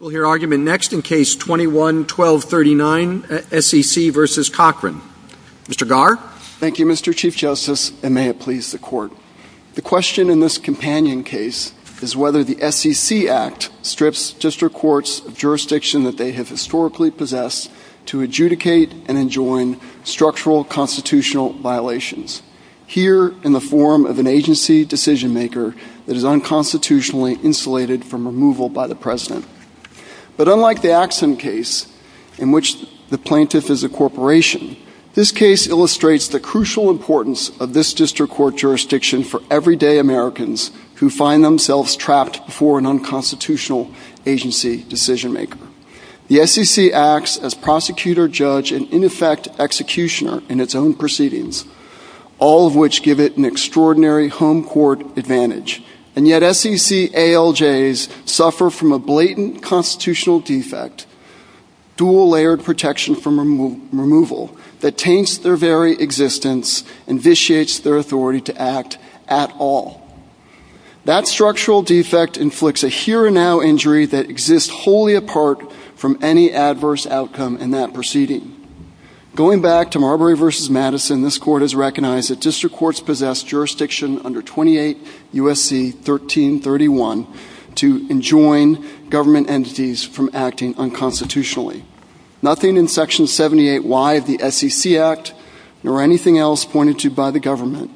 We'll hear argument next in Case 21-1239, SEC v. Cochran. Mr. Garr? Thank you, Mr. Chief Justice, and may it please the Court. The question in this companion case is whether the SEC Act strips district courts of jurisdiction that they have historically possessed to adjudicate and enjoin structural constitutional violations, here in the form of an agency decision-maker that is unconstitutionally insulated from removal by the President. But unlike the Axsom case, in which the plaintiff is a corporation, this case illustrates the crucial importance of this district court jurisdiction for everyday Americans who find themselves trapped before an unconstitutional agency decision-maker. The SEC acts as prosecutor, judge, and in effect executioner in its own proceedings. All of which give it an extraordinary home court advantage. And yet SEC ALJs suffer from a blatant constitutional defect, dual-layered protection from removal, that taints their very existence and vitiates their authority to act at all. That structural defect inflicts a here-and-now injury that exists wholly apart from any adverse outcome in that proceeding. Going back to Marbury v. Madison, this Court has recognized that district courts possess jurisdiction under 28 U.S.C. 1331 to enjoin government entities from acting unconstitutionally. Nothing in Section 78Y of the SEC Act, nor anything else pointed to by the government,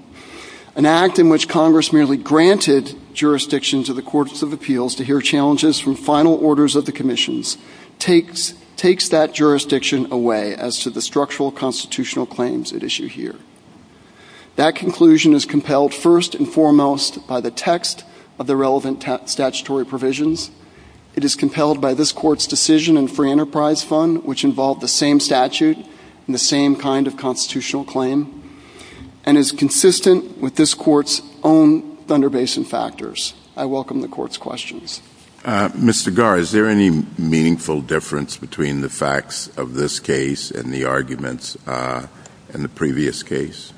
an act in which Congress merely granted jurisdiction to the Courts of Appeals to hear challenges from final orders of the commissions, takes that jurisdiction away as to the structural constitutional claims it issued here. That conclusion is compelled first and foremost by the text of the relevant statutory provisions. It is compelled by this Court's decision in Free Enterprise Fund, which involved the same statute and the same kind of constitutional claim, and is consistent with this Court's own Thunder Basin factors. I welcome the Court's questions. Mr. Garr, is there any meaningful difference between the facts of this case and the arguments in the previous case?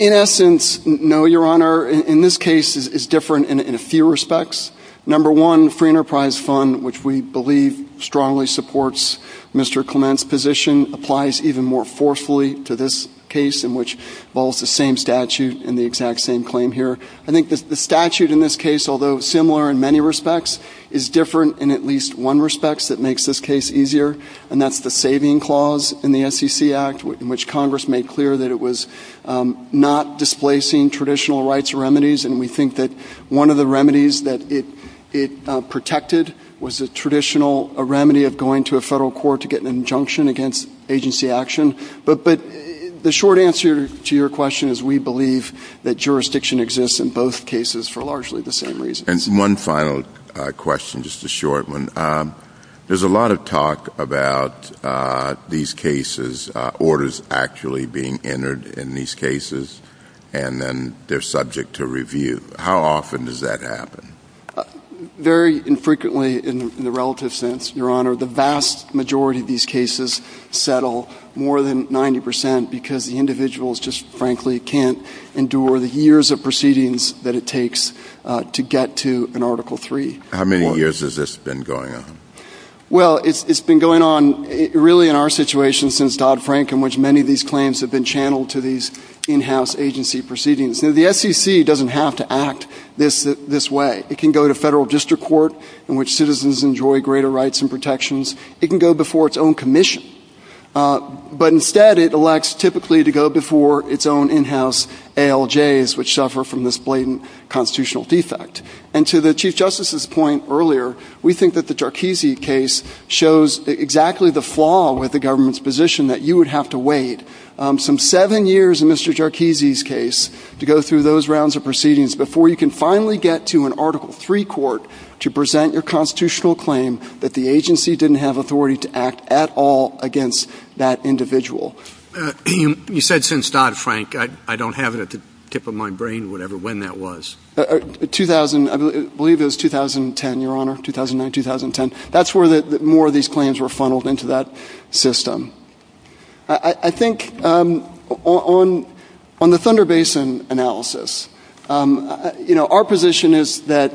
In essence, no, Your Honor. In this case, it's different in a few respects. Number one, Free Enterprise Fund, which we believe strongly supports Mr. Clement's position, applies even more forcefully to this case, in which it involves the same statute and the exact same claim here. I think the statute in this case, although similar in many respects, is different in at least one respect that makes this case easier, and that's the saving clause in the SEC Act, in which Congress made clear that it was not displacing traditional rights or remedies, and we think that one of the remedies that it protected was the traditional remedy of going to a federal court to get an injunction against agency action. But the short answer to your question is we believe that jurisdiction exists in both cases for largely the same reason. And one final question, just a short one. There's a lot of talk about these cases, orders actually being entered in these cases, and then they're subject to review. How often does that happen? Very infrequently in the relative sense, Your Honor. The vast majority of these cases settle more than 90 percent because the individuals just, frankly, can't endure the years of proceedings that it takes to get to an Article III. How many years has this been going on? Well, it's been going on really in our situation since Dodd-Frank, in which many of these claims have been channeled to these in-house agency proceedings. Now, the SEC doesn't have to act this way. It can go to federal district court in which citizens enjoy greater rights and protections. It can go before its own commission. But instead, it elects typically to go before its own in-house ALJs, which suffer from this blatant constitutional defect. And to the Chief Justice's point earlier, we think that the Jarchese case shows exactly the flaw with the government's position, that you would have to wait some seven years in Mr. Jarchese's case to go through those rounds of proceedings before you can finally get to an Article III court to present your constitutional claim that the agency didn't have authority to act at all against that individual. You said since Dodd-Frank. I don't have it at the tip of my brain when that was. I believe it was 2010, Your Honor, 2009, 2010. That's where more of these claims were funneled into that system. I think on the Thunder Basin analysis, our position is that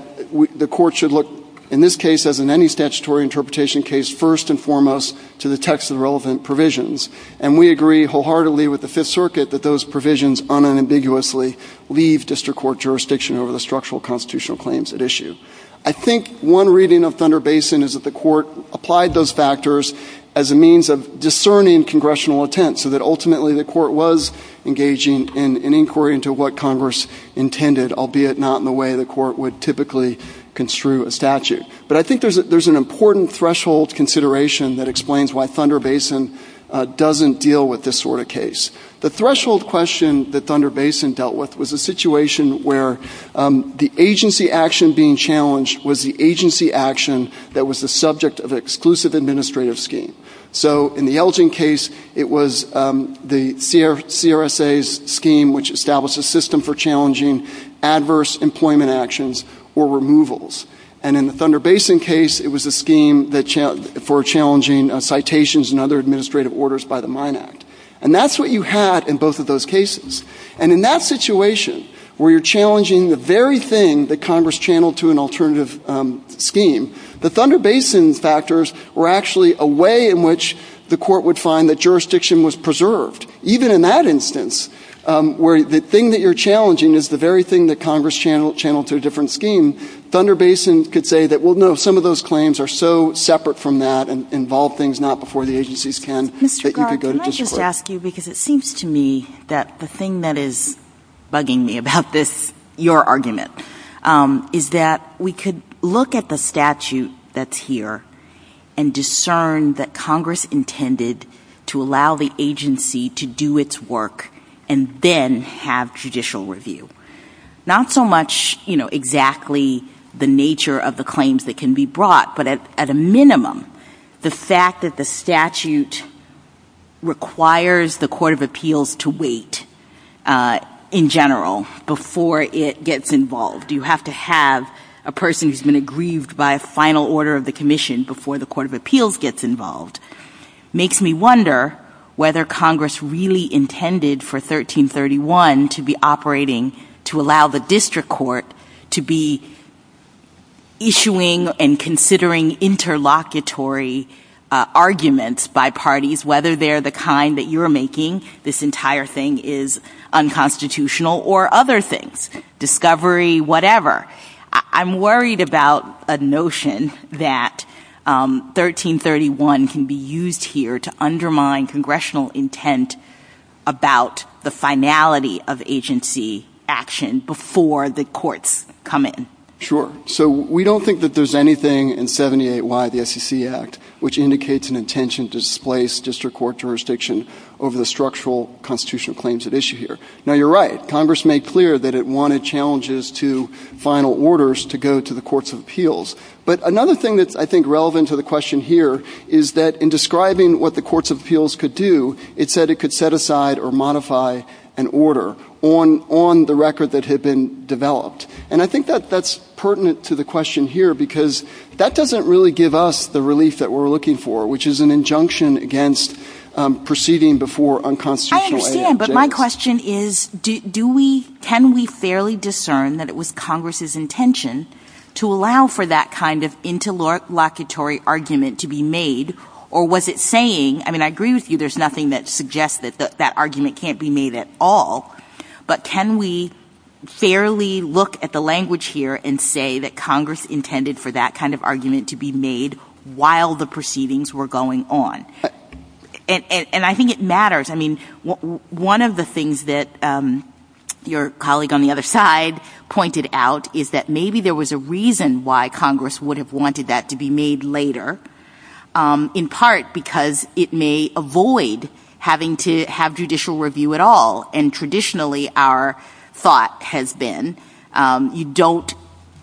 the court should look, in this case, as in any statutory interpretation case, first and foremost to the text of the relevant provisions. And we agree wholeheartedly with the Fifth Circuit that those provisions unambiguously leave district court jurisdiction over the structural constitutional claims at issue. I think one reading of Thunder Basin is that the court applied those factors as a means of discerning congressional intent so that ultimately the court was engaging in inquiry into what Congress intended, albeit not in the way the court would typically construe a statute. But I think there's an important threshold consideration that explains why Thunder Basin doesn't deal with this sort of case. The threshold question that Thunder Basin dealt with was a situation where the agency action being challenged was the agency action that was the subject of an exclusive administrative scheme. So in the Elgin case, it was the CRSA's scheme, which established a system for challenging adverse employment actions or removals. And in the Thunder Basin case, it was a scheme for challenging citations and other administrative orders by the Mine Act. And that's what you had in both of those cases. And in that situation where you're challenging the very thing that Congress channeled to an alternative scheme, the Thunder Basin factors were actually a way in which the court would find that jurisdiction was preserved. Even in that instance, where the thing that you're challenging is the very thing that Congress channeled to a different scheme, Thunder Basin could say that, well, no, some of those claims are so separate from that and involve things not before the agencies can, that you could go to this court. Mr. Grubb, may I just ask you, because it seems to me that the thing that is bugging me about this, your argument, is that we could look at the statute that's here and discern that Congress intended to allow the agency to do its work and then have judicial review. Not so much, you know, exactly the nature of the claims that can be brought, but at a minimum, the fact that the statute requires the Court of Appeals to wait in general before it gets involved. You have to have a person who's been aggrieved by a final order of the commission before the Court of Appeals gets involved. Makes me wonder whether Congress really intended for 1331 to be operating to allow the district court to be issuing and considering interlocutory arguments by parties, whether they're the kind that you're making, this entire thing is unconstitutional, or other things, discovery, whatever. I'm worried about a notion that 1331 can be used here to undermine congressional intent about the finality of agency action before the courts come in. Sure. So we don't think that there's anything in 78Y, the SEC Act, which indicates an intention to displace district court jurisdiction over the structural constitutional claims at issue here. Now, you're right. Congress made clear that it wanted challenges to final orders to go to the Courts of Appeals. But another thing that's, I think, relevant to the question here is that in describing what the Courts of Appeals could do, it said it could set aside or modify an order on the record that had been developed. And I think that that's pertinent to the question here because that doesn't really give us the relief that we're looking for, which is an injunction against proceeding before unconstitutional agency action. But my question is, can we fairly discern that it was Congress's intention to allow for that kind of interlocutory argument to be made, or was it saying, I mean, I agree with you, there's nothing that suggests that that argument can't be made at all, but can we fairly look at the language here and say that Congress intended for that kind of argument to be made while the proceedings were going on? And I think it matters. I mean, one of the things that your colleague on the other side pointed out is that maybe there was a reason why Congress would have wanted that to be made later, in part because it may avoid having to have judicial review at all. And traditionally, our thought has been you don't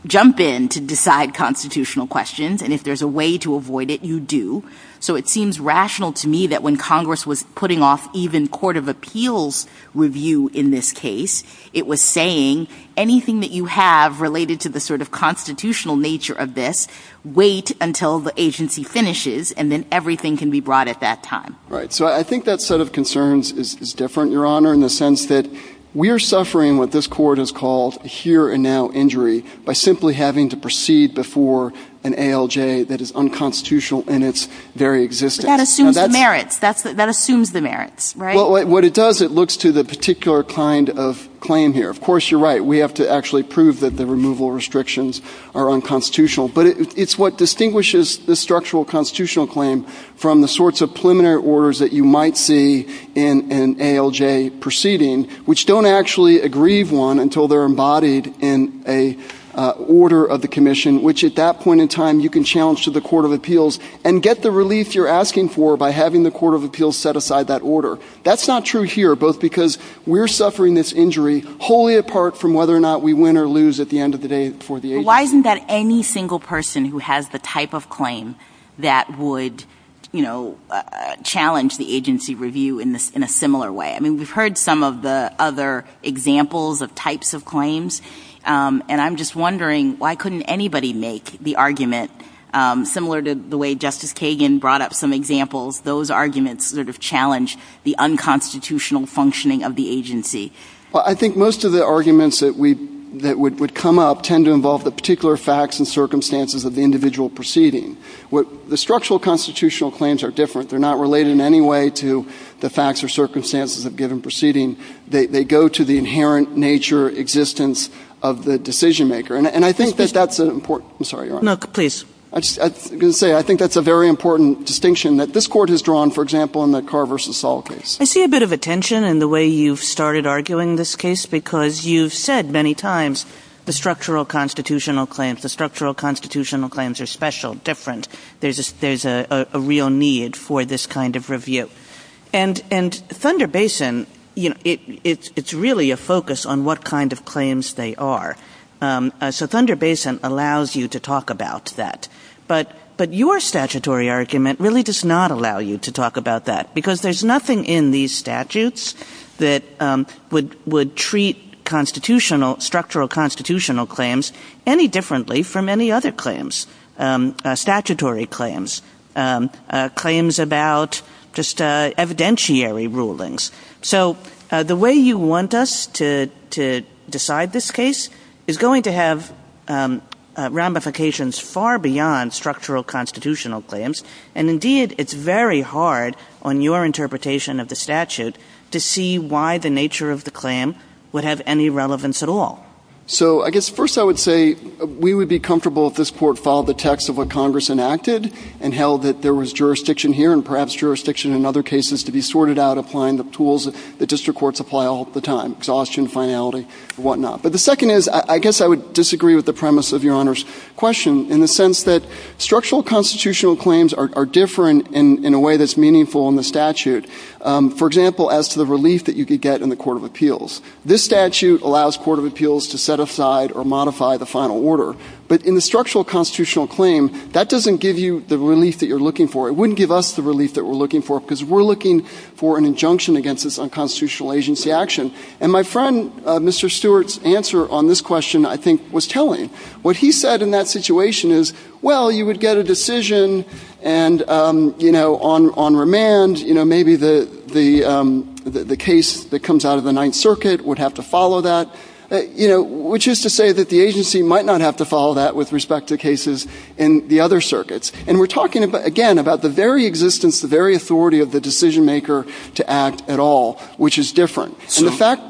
jump in to decide constitutional questions, and if there's a way to avoid it, you do. So it seems rational to me that when Congress was putting off even court of appeals review in this case, it was saying anything that you have related to the sort of constitutional nature of this, wait until the agency finishes, and then everything can be brought at that time. Right. So I think that set of concerns is different, Your Honor, in the sense that we are suffering what this Court has called here and now injury by simply having to proceed before an ALJ that is unconstitutional in its very existence. But that assumes the merits. That assumes the merits, right? Well, what it does, it looks to the particular kind of claim here. Of course, you're right. We have to actually prove that the removal restrictions are unconstitutional. But it's what distinguishes the structural constitutional claim from the sorts of preliminary orders that you might see in an ALJ proceeding, which don't actually aggrieve one until they're embodied in an order of the commission, which at that point in time you can challenge to the court of appeals and get the relief you're asking for by having the court of appeals set aside that order. That's not true here, both because we're suffering this injury wholly apart from whether or not we win or lose at the end of the day for the agency. Why isn't that any single person who has the type of claim that would, you know, challenge the agency review in a similar way? I mean, we've heard some of the other examples of types of claims, and I'm just wondering why couldn't anybody make the argument similar to the way Justice Kagan brought up some examples, those arguments that have challenged the unconstitutional functioning of the agency? Well, I think most of the arguments that would come up tend to involve the particular facts and circumstances of the individual proceeding. The structural constitutional claims are different. They're not related in any way to the facts or circumstances of a given proceeding. They go to the inherent nature, existence of the decision-maker. And I think that that's important. I'm sorry, Your Honor. No, please. I was going to say, I think that's a very important distinction that this court has drawn, for example, in the Carr v. Saul case. I see a bit of a tension in the way you've started arguing this case because you've said many times the structural constitutional claims, the structural constitutional claims are special, different. There's a real need for this kind of review. And Thunder Basin, you know, it's really a focus on what kind of claims they are. So Thunder Basin allows you to talk about that. But your statutory argument really does not allow you to talk about that because there's nothing in these statutes that would treat constitutional, structural constitutional claims any differently from any other claims. Statutory claims, claims about just evidentiary rulings. So the way you want us to decide this case is going to have ramifications far beyond structural constitutional claims. And indeed, it's very hard on your interpretation of the statute to see why the nature of the claim would have any relevance at all. So I guess first I would say we would be comfortable if this court followed the text of what Congress enacted and held that there was jurisdiction here and perhaps jurisdiction in other cases to be sorted out, applying the tools that district courts apply all the time, exhaustion, finality, and whatnot. But the second is I guess I would disagree with the premise of Your Honor's question in the sense that structural constitutional claims are different in a way that's meaningful in the statute. For example, as to the relief that you could get in the Court of Appeals. This statute allows Court of Appeals to set aside or modify the final order. But in the structural constitutional claim, that doesn't give you the relief that you're looking for. It wouldn't give us the relief that we're looking for because we're looking for an injunction against this unconstitutional agency action. And my friend Mr. Stewart's answer on this question I think was telling. What he said in that situation is, well, you would get a decision and, you know, on remand, you know, maybe the case that comes out of the Ninth Circuit would have to follow that, you know, which is to say that the agency might not have to follow that with respect to cases in the other circuits. And we're talking, again, about the very existence, the very authority of the decision maker to act at all, which is different. And the fact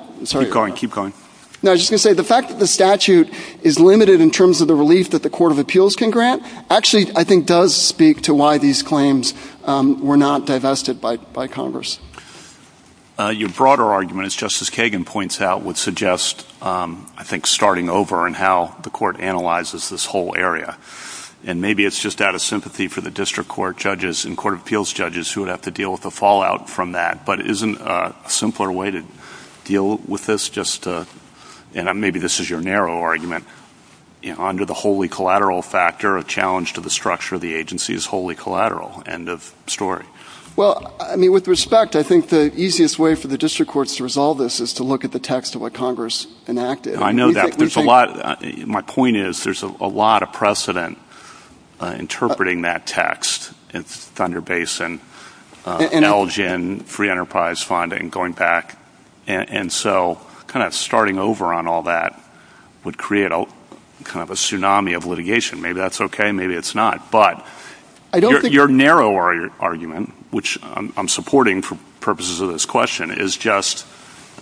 that the statute is limited in terms of the relief that the Court of Appeals can grant, actually I think does speak to why these claims were not divested by Congress. Your broader argument, as Justice Kagan points out, would suggest, I think, starting over in how the Court analyzes this whole area. And maybe it's just out of sympathy for the district court judges and Court of Appeals judges who would have to deal with the fallout from that. But isn't a simpler way to deal with this? Maybe this is your narrow argument. Under the wholly collateral factor, a challenge to the structure of the agency is wholly collateral. End of story. Well, I mean, with respect, I think the easiest way for the district courts to resolve this is to look at the text of what Congress enacted. I know that. My point is there's a lot of precedent interpreting that text in Thunder Basin, NELGIN, free enterprise funding, going back. And so kind of starting over on all that would create kind of a tsunami of litigation. Maybe that's okay. Maybe it's not. But your narrower argument, which I'm supporting for purposes of this question, is just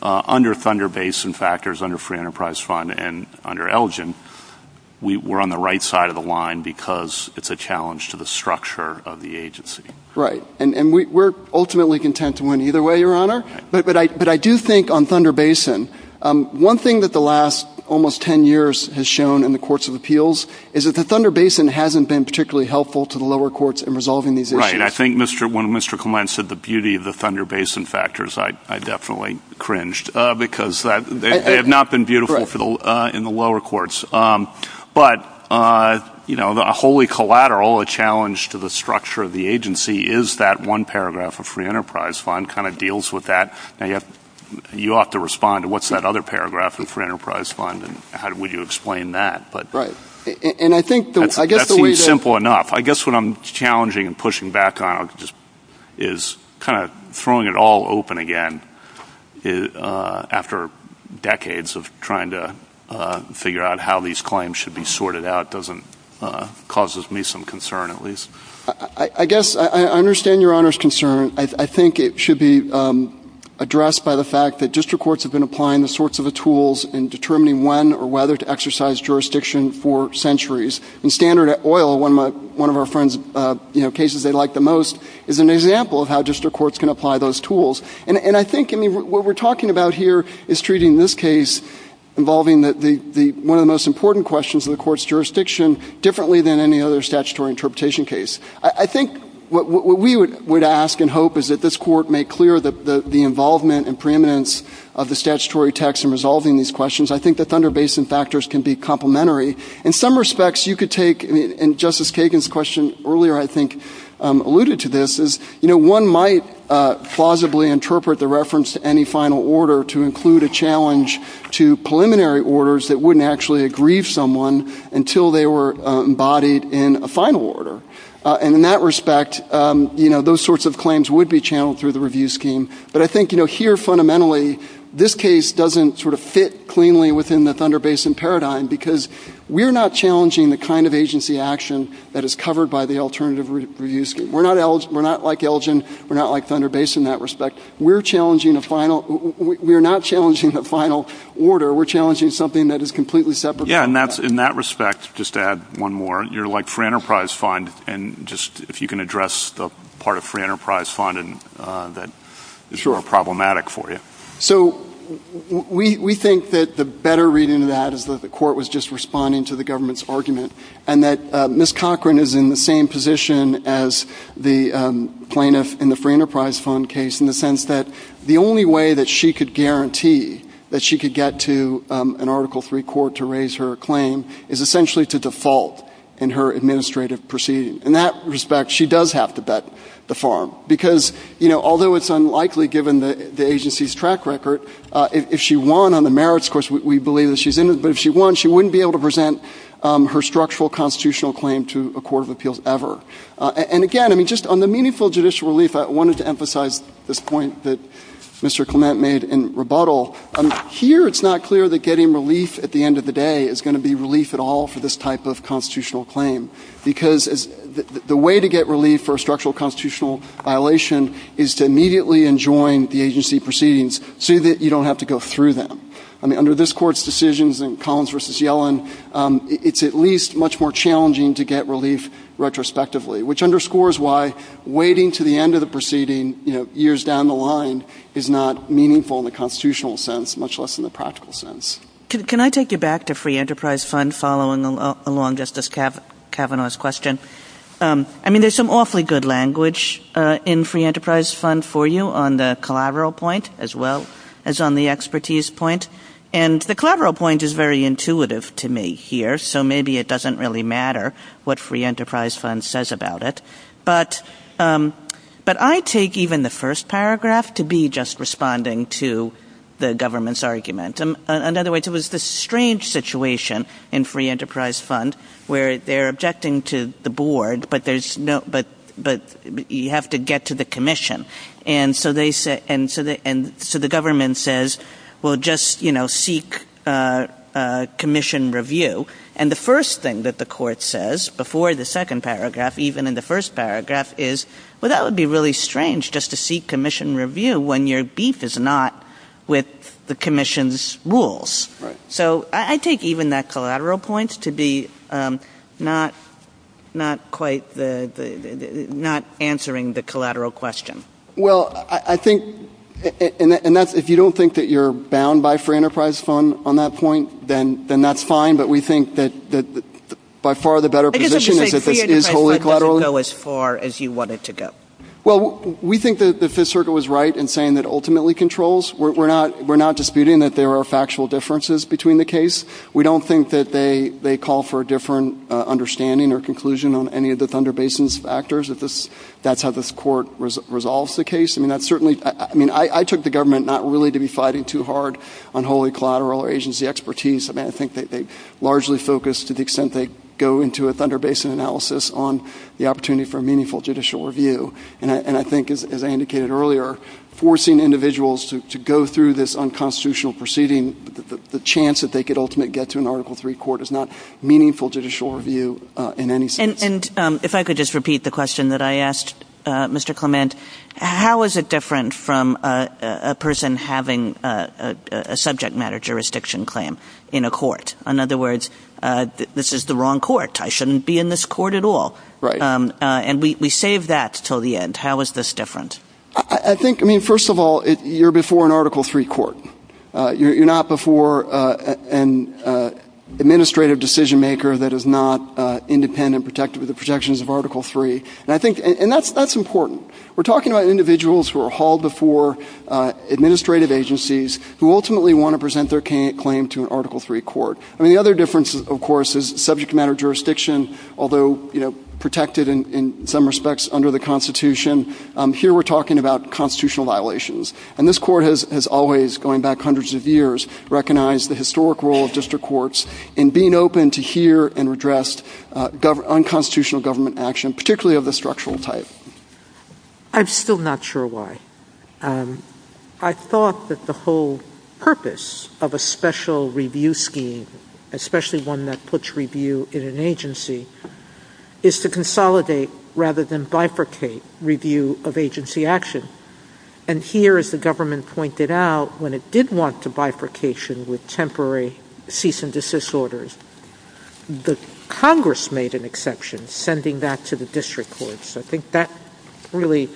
under Thunder Basin factors, under free enterprise fund, and under NELGIN, we're on the right side of the line because it's a challenge to the structure of the agency. Right. And we're ultimately content to win either way, Your Honor. But I do think on Thunder Basin, one thing that the last almost ten years has shown in the courts of appeals is that the Thunder Basin hasn't been particularly helpful to the lower courts in resolving these issues. Right. I think when Mr. Clement said the beauty of the Thunder Basin factors, I definitely cringed because they have not been beautiful in the lower courts. But a wholly collateral, a challenge to the structure of the agency, is that one paragraph of free enterprise fund kind of deals with that. You ought to respond to what's that other paragraph in free enterprise fund, and how would you explain that? Right. And I think the way that... That seems simple enough. I guess what I'm challenging and pushing back on is kind of throwing it all open again after decades of trying to figure out how these claims should be sorted out causes me some concern at least. I guess I understand Your Honor's concern. I think it should be addressed by the fact that district courts have been applying the sorts of the tools and determining when or whether to exercise jurisdiction for centuries. In Standard Oil, one of our friends' cases they like the most, is an example of how district courts can apply those tools. And I think what we're talking about here is treating this case involving one of the most important questions in the court's jurisdiction differently than any other statutory interpretation case. I think what we would ask and hope is that this court make clear the involvement and preeminence of the statutory text in resolving these questions. I think the Thunder Basin factors can be complementary. In some respects you could take, and Justice Kagan's question earlier I think alluded to this, one might plausibly interpret the reference to any final order to include a challenge to preliminary orders that wouldn't actually aggrieve someone until they were embodied in a final order. And in that respect, those sorts of claims would be channeled through the review scheme. But I think here fundamentally this case doesn't sort of fit cleanly within the Thunder Basin paradigm because we're not challenging the kind of agency action that is covered by the alternative review scheme. We're not like Elgin, we're not like Thunder Basin in that respect. We're not challenging the final order. We're challenging something that is completely separate. Yeah, and in that respect, just to add one more, you're like Free Enterprise Fund, and just if you can address the part of Free Enterprise Fund that is sort of problematic for you. So we think that the better reading of that is that the court was just responding to the government's argument and that Ms. Cochran is in the same position as the plaintiff in the Free Enterprise Fund case in the sense that the only way that she could guarantee that she could get to an article-free court to raise her claim is essentially to default in her administrative proceedings. In that respect, she does have to bet the farm because, you know, although it's unlikely given the agency's track record, if she won on the merits course, but if she won, she wouldn't be able to present her structural constitutional claim to a court of appeals ever. And again, I mean, just on the meaningful judicial relief, I wanted to emphasize this point that Mr. Clement made in rebuttal. Here it's not clear that getting relief at the end of the day is going to be relief at all for this type of constitutional claim because the way to get relief for a structural constitutional violation is to immediately enjoin the agency proceedings so that you don't have to go through them. I mean, under this court's decisions in Collins v. Yellen, it's at least much more challenging to get relief retrospectively, which underscores why waiting to the end of the proceeding, you know, years down the line, is not meaningful in the constitutional sense, much less in the practical sense. Can I take you back to Free Enterprise Fund following along Justice Kavanaugh's question? I mean, there's some awfully good language in Free Enterprise Fund for you on the collateral point as well as on the expertise point. And the collateral point is very intuitive to me here, so maybe it doesn't really matter what Free Enterprise Fund says about it. But I take even the first paragraph to be just responding to the government's argument. In other words, it was this strange situation in Free Enterprise Fund where they're objecting to the board, but you have to get to the commission. And so the government says, well, just seek commission review. And the first thing that the court says before the second paragraph, even in the first paragraph, is, well, that would be really strange just to seek commission review when your beef is not with the commission's rules. So I take even that collateral point to be not answering the collateral question. Well, I think, and if you don't think that you're bound by Free Enterprise Fund on that point, then that's fine. But we think that by far the better position is if it is wholly collateral. Because Free Enterprise Fund doesn't go as far as you want it to go. Well, we think that the Fifth Circle was right in saying that ultimately controls. We're not disputing that there are factual differences between the case. We don't think that they call for a different understanding or conclusion on any of the Thunder Basin's factors. That's how this court resolves the case. I mean, I took the government not really to be fighting too hard on wholly collateral agency expertise. I mean, I think they largely focus to the extent they go into a Thunder Basin analysis on the opportunity for meaningful judicial review. And I think, as I indicated earlier, forcing individuals to go through this unconstitutional proceeding, the chance that they could ultimately get to an Article III court is not meaningful judicial review in any sense. And if I could just repeat the question that I asked, Mr. Clement, how is it different from a person having a subject matter jurisdiction claim in a court? In other words, this is the wrong court. I shouldn't be in this court at all. Right. And we save that until the end. How is this different? I think, I mean, first of all, you're before an Article III court. You're not before an administrative decision maker that is not independent, protected with the protections of Article III. And I think, and that's important. We're talking about individuals who are hauled before administrative agencies who ultimately want to present their claim to an Article III court. I mean, the other difference, of course, is subject matter jurisdiction, although, you know, protected in some respects under the Constitution, here we're talking about constitutional violations. And this court has always, going back hundreds of years, recognized the historic role of district courts in being open to hear and address unconstitutional government action, particularly of the structural type. I'm still not sure why. I thought that the whole purpose of a special review scheme, especially one that puts review in an agency, is to consolidate rather than bifurcate review of agency action. And here, as the government pointed out, when it did want the bifurcation with temporary cease and desist orders, the Congress made an exception, sending that to the district courts. I think that really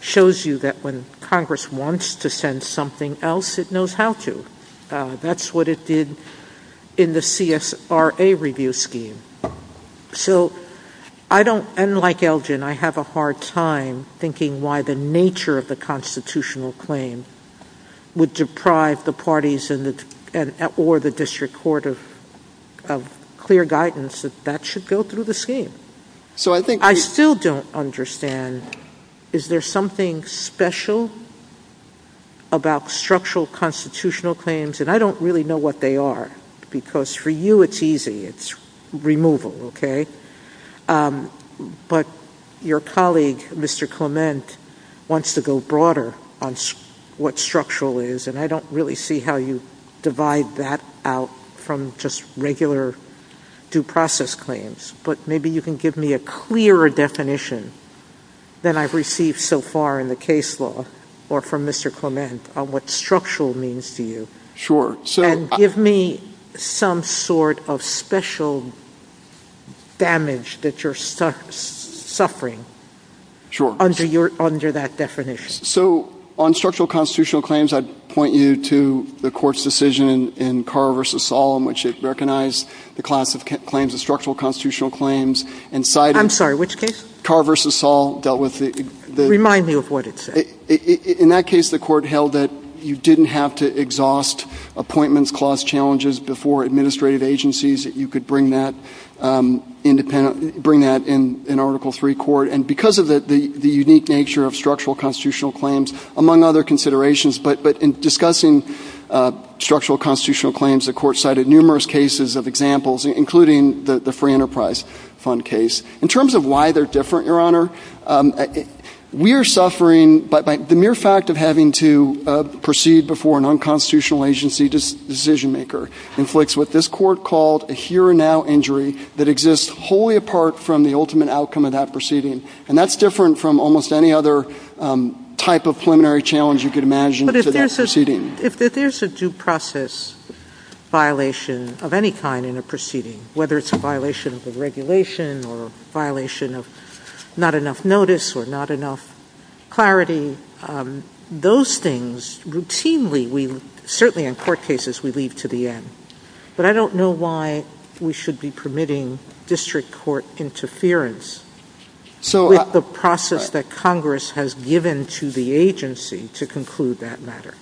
shows you that when Congress wants to send something else, it knows how to. That's what it did in the CSRA review scheme. So I don't, and like Elgin, I have a hard time thinking why the nature of the constitutional claim would deprive the parties or the district court of clear guidance that that should go through the scheme. I still don't understand, is there something special about structural constitutional claims? And I don't really know what they are, because for you it's easy. It's removal, okay? But your colleague, Mr. Clement, wants to go broader on what structural is, and I don't really see how you divide that out from just regular due process claims. But maybe you can give me a clearer definition than I've received so far in the case law, or from Mr. Clement, on what structural means to you. Sure. And give me some sort of special damage that you're suffering under that definition. So on structural constitutional claims, I'd point you to the court's decision in Carver v. Solomon, which they've recognized the class of claims as structural constitutional claims and cited. I'm sorry, which case? Carver v. Solomon. Remind me of what it said. In that case, the court held that you didn't have to exhaust appointments, clause challenges before administrative agencies that you could bring that independent, bring that in Article III court. And because of the unique nature of structural constitutional claims, among other considerations, but in discussing structural constitutional claims, the court cited numerous cases of examples, including the Free Enterprise Fund case. In terms of why they're different, Your Honor, we are suffering, but the mere fact of having to proceed before a nonconstitutional agency decision-maker inflicts what this court called a here-and-now injury that exists wholly apart from the ultimate outcome of that proceeding. And that's different from almost any other type of preliminary challenge you could imagine to that proceeding. But if there's a due process violation of any kind in a proceeding, whether it's a violation of the regulation or a violation of not enough notice or not enough clarity, those things routinely, certainly in court cases, we lead to the end. But I don't know why we should be permitting district court interference. With the process that Congress has given to the agency to conclude that matter.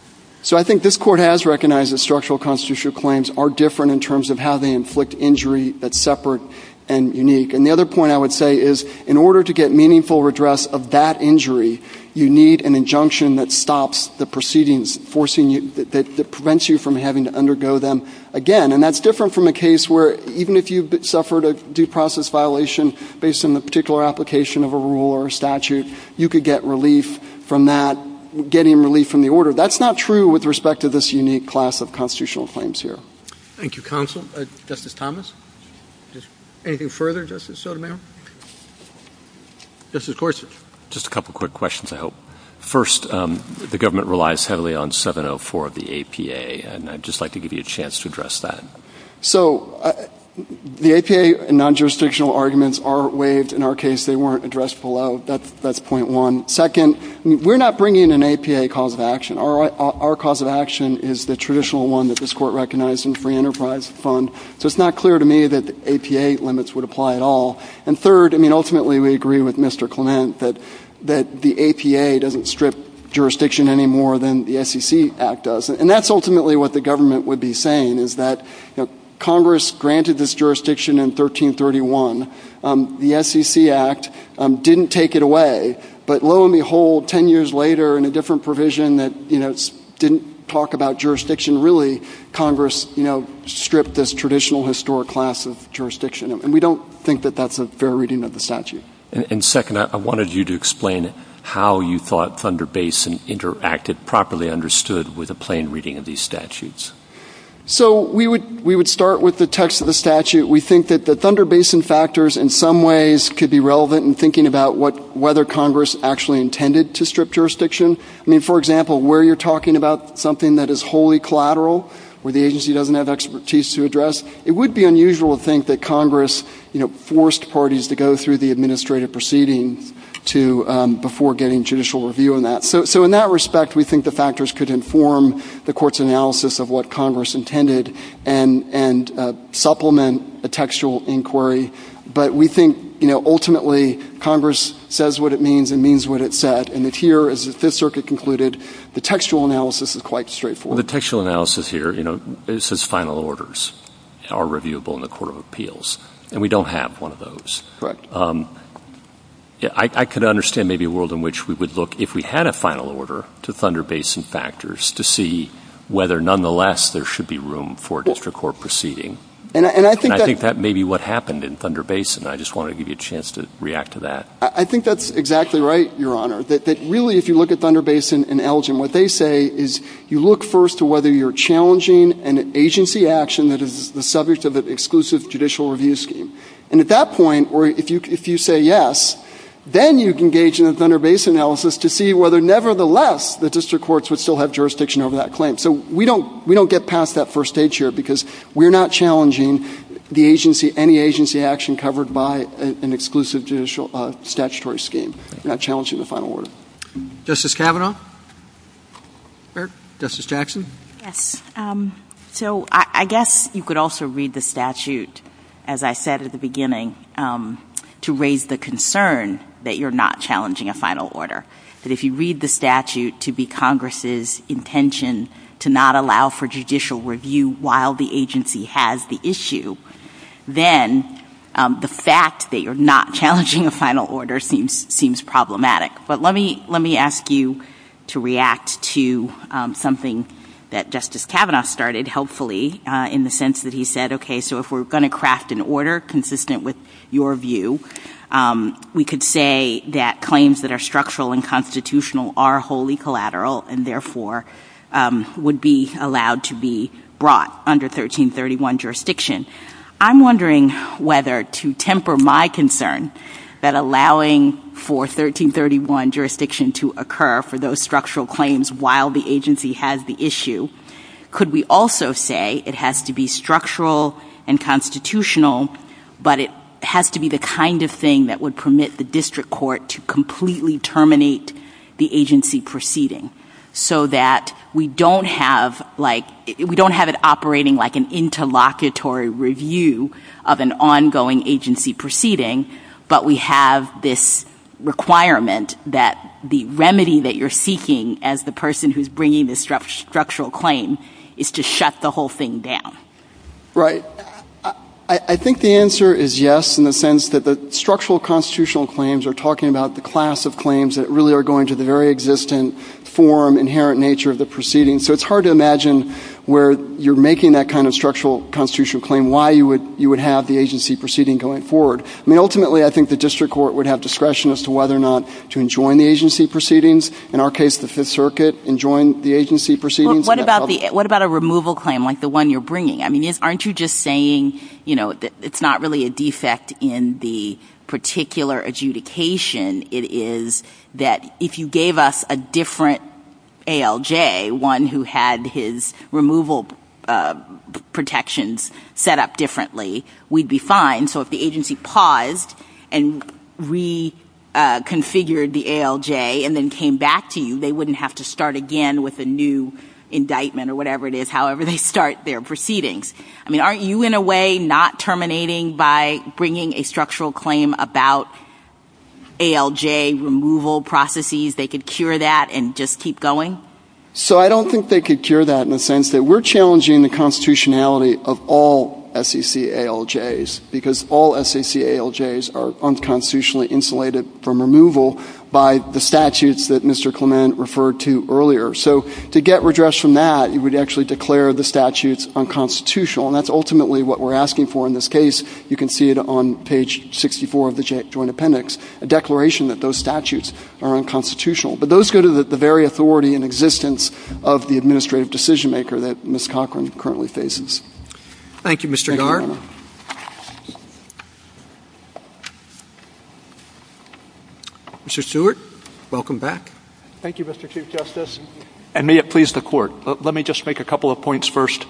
So I think this court has recognized that structural constitutional claims are different in terms of how they inflict injury that's separate and unique. And the other point I would say is, in order to get meaningful redress of that injury, you need an injunction that stops the proceedings forcing you, that prevents you from having to undergo them again. And that's different from a case where even if you've suffered a due process violation based on the particular application of a rule or statute, you could get relief from that, getting relief from the order. That's not true with respect to this unique class of constitutional claims here. Thank you, counsel. Justice Thomas? Anything further, Justice Sotomayor? Just a couple quick questions, I hope. First, the government relies heavily on 704 of the APA. And I'd just like to give you a chance to address that. So the APA and non-jurisdictional arguments are waived. In our case, they weren't addressed below. That's point one. Second, we're not bringing an APA cause of action. Our cause of action is the traditional one that this court recognized in free enterprise fund. So it's not clear to me that the APA limits would apply at all. And third, I mean, ultimately we agree with Mr. Clement that the APA doesn't strip jurisdiction any more than the SEC Act does. And that's ultimately what the government would be saying is that Congress granted this jurisdiction in 1331. The SEC Act didn't take it away. But lo and behold, 10 years later in a different provision that didn't talk about jurisdiction, and we don't think that that's a fair reading of the statute. And second, I wanted you to explain how you thought Thunder Basin interacted, properly understood, with a plain reading of these statutes. So we would start with the text of the statute. We think that the Thunder Basin factors in some ways could be relevant in thinking about whether Congress actually intended to strip jurisdiction. I mean, for example, where you're talking about something that is wholly collateral, where the agency doesn't have expertise to address, it would be unusual to think that Congress forced parties to go through the administrative proceeding before getting judicial review on that. So in that respect, we think the factors could inform the court's analysis of what Congress intended and supplement a textual inquiry. But we think ultimately Congress says what it means and means what it said. And here, as the Fifth Circuit concluded, the textual analysis is quite straightforward. Well, the textual analysis here, you know, it says final orders are reviewable in the Court of Appeals, and we don't have one of those. Correct. I could understand maybe a world in which we would look, if we had a final order, to Thunder Basin factors to see whether, nonetheless, there should be room for a district court proceeding. And I think that may be what happened in Thunder Basin. I just want to give you a chance to react to that. I think that's exactly right, Your Honor, that really if you look at Thunder Basin and Elgin, what they say is you look first to whether you're challenging an agency action that is the subject of an exclusive judicial review scheme. And at that point, or if you say yes, then you can engage in a Thunder Basin analysis to see whether, nevertheless, the district courts would still have jurisdiction over that claim. So we don't get past that first stage here, because we're not challenging the agency, any agency action covered by an exclusive statutory scheme. We're not challenging the final order. Justice Kavanaugh? Justice Jackson? Yes. So I guess you could also read the statute, as I said at the beginning, to raise the concern that you're not challenging a final order, that if you read the statute to be Congress's intention to not allow for judicial review while the agency has the issue, then the fact that you're not challenging a final order seems problematic. But let me ask you to react to something that Justice Kavanaugh started helpfully in the sense that he said, okay, so if we're going to craft an order consistent with your view, we could say that claims that are structural and constitutional are wholly collateral and therefore would be allowed to be brought under 1331 jurisdiction. I'm wondering whether to temper my concern that allowing for 1331 jurisdiction to occur for those structural claims while the agency has the issue, could we also say it has to be structural and constitutional, but it has to be the kind of thing that would permit the district court to completely terminate the agency proceeding, so that we don't have it operating like an interlocutory review of an ongoing agency proceeding, but we have this requirement that the remedy that you're seeking as the person who's bringing the structural claim is to shut the whole thing down. Right. I think the answer is yes, in the sense that the structural constitutional claims are talking about the class of claims that really are going to the very existent form, inherent nature of the proceeding. So it's hard to imagine where you're making that kind of structural constitutional claim, why you would have the agency proceeding going forward. I mean, ultimately, I think the district court would have discretion as to whether or not to enjoin the agency proceedings. In our case, the Fifth Circuit enjoined the agency proceedings. What about a removal claim like the one you're bringing? I mean, aren't you just saying, you know, it's not really a defect in the particular adjudication. It is that if you gave us a different ALJ, one who had his removal protections set up differently, we'd be fine. So if the agency paused and reconfigured the ALJ and then came back to you, they wouldn't have to start again with a new indictment or whatever it is, however they start their proceedings. I mean, aren't you in a way not terminating by bringing a structural claim about ALJ removal processes? They could cure that and just keep going? So I don't think they could cure that in the sense that we're challenging the constitutionality of all SEC ALJs because all SEC ALJs are unconstitutionally insulated from removal by the statutes that Mr. Clement referred to earlier. So to get redress from that, you would actually declare the statutes unconstitutional, and that's ultimately what we're asking for in this case. You can see it on page 64 of the Joint Appendix, a declaration that those statutes are unconstitutional. But those go to the very authority and existence of the administrative decision-maker that Ms. Cochran currently faces. Thank you, Mr. Garr. Mr. Stewart, welcome back. Thank you, Mr. Chief Justice. And may it please the Court, let me just make a couple of points first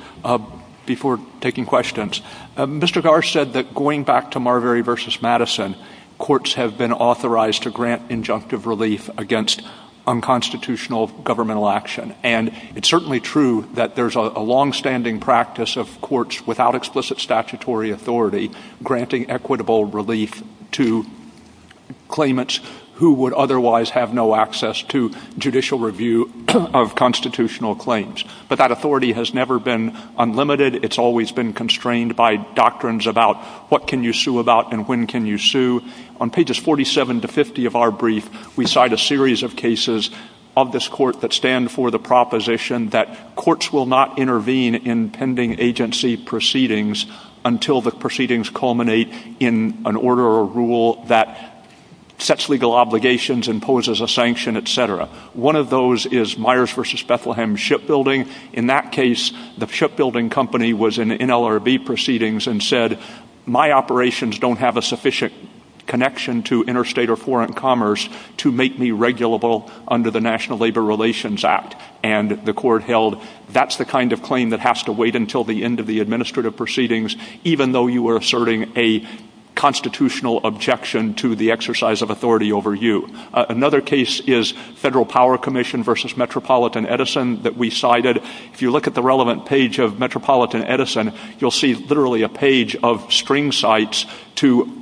before taking questions. Mr. Garr said that going back to Marbury v. Madison, courts have been authorized to grant injunctive relief against unconstitutional governmental action, and it's certainly true that there's a longstanding practice of courts without explicit statutory authority granting equitable relief to claimants who would otherwise have no access to judicial review of constitutional claims. But that authority has never been unlimited. It's always been constrained by doctrines about what can you sue about and when can you sue. On pages 47 to 50 of our brief, we cite a series of cases of this Court that stand for the proposition that courts will not intervene in pending agency proceedings until the proceedings culminate in an order or rule that sets legal obligations, imposes a sanction, etc. One of those is Myers v. Bethlehem Shipbuilding. In that case, the shipbuilding company was in NLRB proceedings and said, my operations don't have a sufficient connection to interstate or foreign commerce to make me regulable under the National Labor Relations Act. And the Court held that's the kind of claim that has to wait until the end of the administrative proceedings even though you are asserting a constitutional objection to the exercise of authority over you. Another case is Federal Power Commission v. Metropolitan Edison that we cited. If you look at the relevant page of Metropolitan Edison, you'll see literally a page of string cites to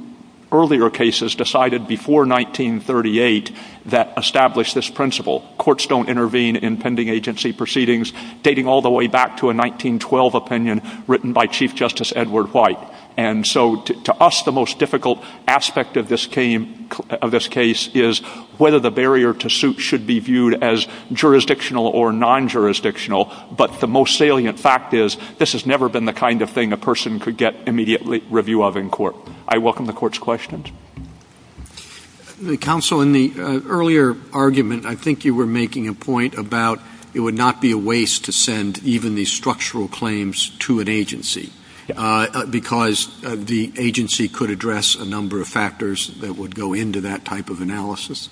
earlier cases decided before 1938 that established this principle. Courts don't intervene in pending agency proceedings, dating all the way back to a 1912 opinion written by Chief Justice Edward White. And so to us, the most difficult aspect of this case is whether the barrier to suit should be viewed as jurisdictional or non-jurisdictional. But the most salient fact is this has never been the kind of thing a person could get immediate review of in court. I welcome the Court's questions. The counsel in the earlier argument, I think you were making a point about it would not be a waste to send even these structural claims to an agency because the agency could address a number of factors that would go into that type of analysis.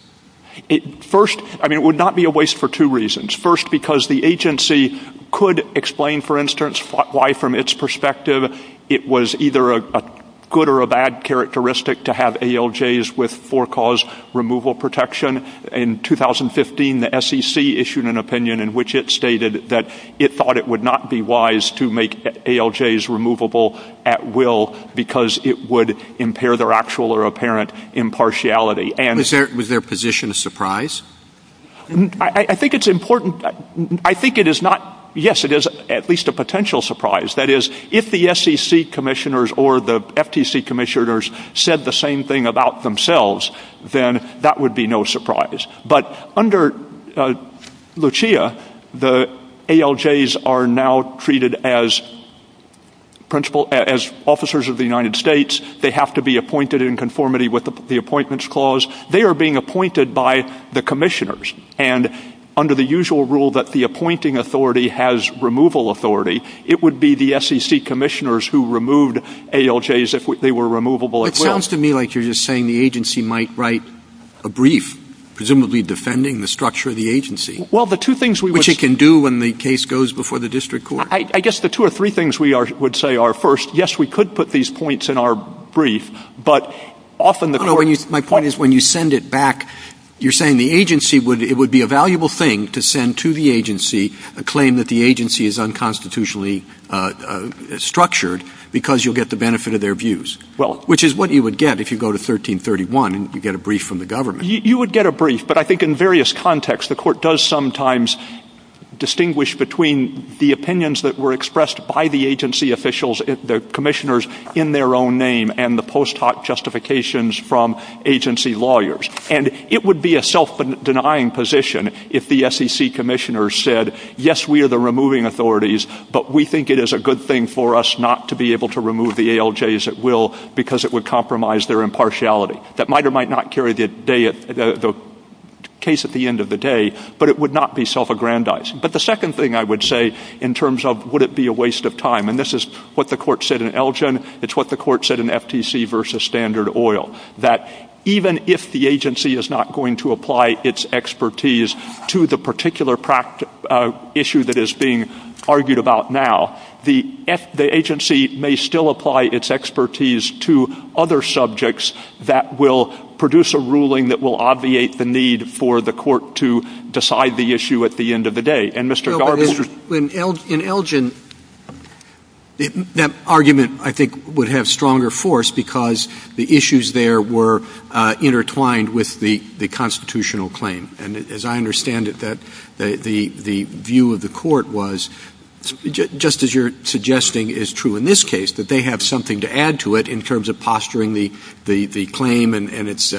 First, I mean, it would not be a waste for two reasons. First, because the agency could explain, for instance, why from its perspective it was either a good or a bad characteristic to have ALJs with for-cause removal protection. In 2015, the SEC issued an opinion in which it stated that it thought it would not be wise to make ALJs removable at will because it would impair their actual or apparent impartiality. Was their position a surprise? I think it's important. I think it is not. Yes, it is at least a potential surprise. That is, if the SEC commissioners or the FTC commissioners said the same thing about themselves, then that would be no surprise. But under Lucia, the ALJs are now treated as officers of the United States. They have to be appointed in conformity with the Appointments Clause. They are being appointed by the commissioners. And under the usual rule that the appointing authority has removal authority, it would be the SEC commissioners who removed ALJs if they were removable at will. It sounds to me like you're just saying the agency might write a brief, presumably defending the structure of the agency, which it can do when the case goes before the district court. I guess the two or three things we would say are, first, yes, we could put these points in our brief, but often the court — No, my point is when you send it back, you're saying the agency would — it would be a valuable thing to send to the agency a claim that the agency is unconstitutionally structured because you'll get the benefit of their views, which is what you would get if you go to 1331 and you get a brief from the government. You would get a brief, but I think in various contexts the court does sometimes distinguish between the opinions that were expressed by the agency officials, the commissioners in their own name, and the post hoc justifications from agency lawyers. And it would be a self-denying position if the SEC commissioners said, yes, we are the removing authorities, but we think it is a good thing for us not to be able to remove the ALJs at will because it would compromise their impartiality. That might or might not carry the case at the end of the day, but it would not be self-aggrandizing. But the second thing I would say in terms of would it be a waste of time, and this is what the court said in Elgin, it's what the court said in FTC v. Standard Oil, that even if the agency is not going to apply its expertise to the particular issue that is being argued about now, the agency may still apply its expertise to other subjects that will produce a ruling that will obviate the need for the court to decide the issue at the end of the day. And, Mr. Garber... Well, in Elgin, that argument, I think, would have stronger force because the issues there were intertwined with the constitutional claim. And as I understand it, the view of the court was, just as you're suggesting is true in this case, that they have something to add to it in terms of posturing the claim and its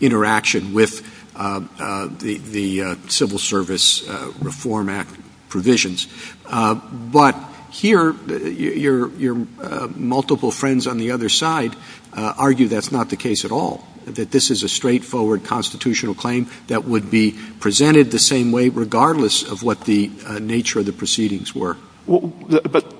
interaction with the Civil Service Reform Act provisions. But here, your multiple friends on the other side argue that's not the case at all, that this is a straightforward constitutional claim that would be presented the same way regardless of what the nature of the proceedings were. But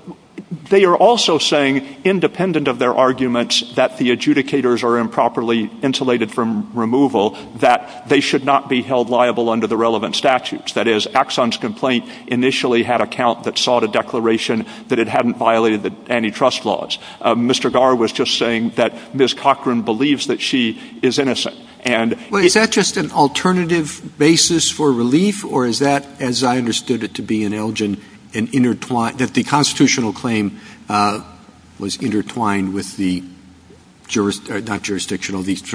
they are also saying, independent of their arguments that the adjudicators are improperly insulated from removal, that they should not be held liable under the relevant statutes. That is, Axon's complaint initially had a count that sought a declaration that it hadn't violated the antitrust laws. Mr. Garber was just saying that Ms. Cochran believes that she is innocent. Is that just an alternative basis for relief, or is that, as I understood it to be in Elgin, that the constitutional claim was intertwined with the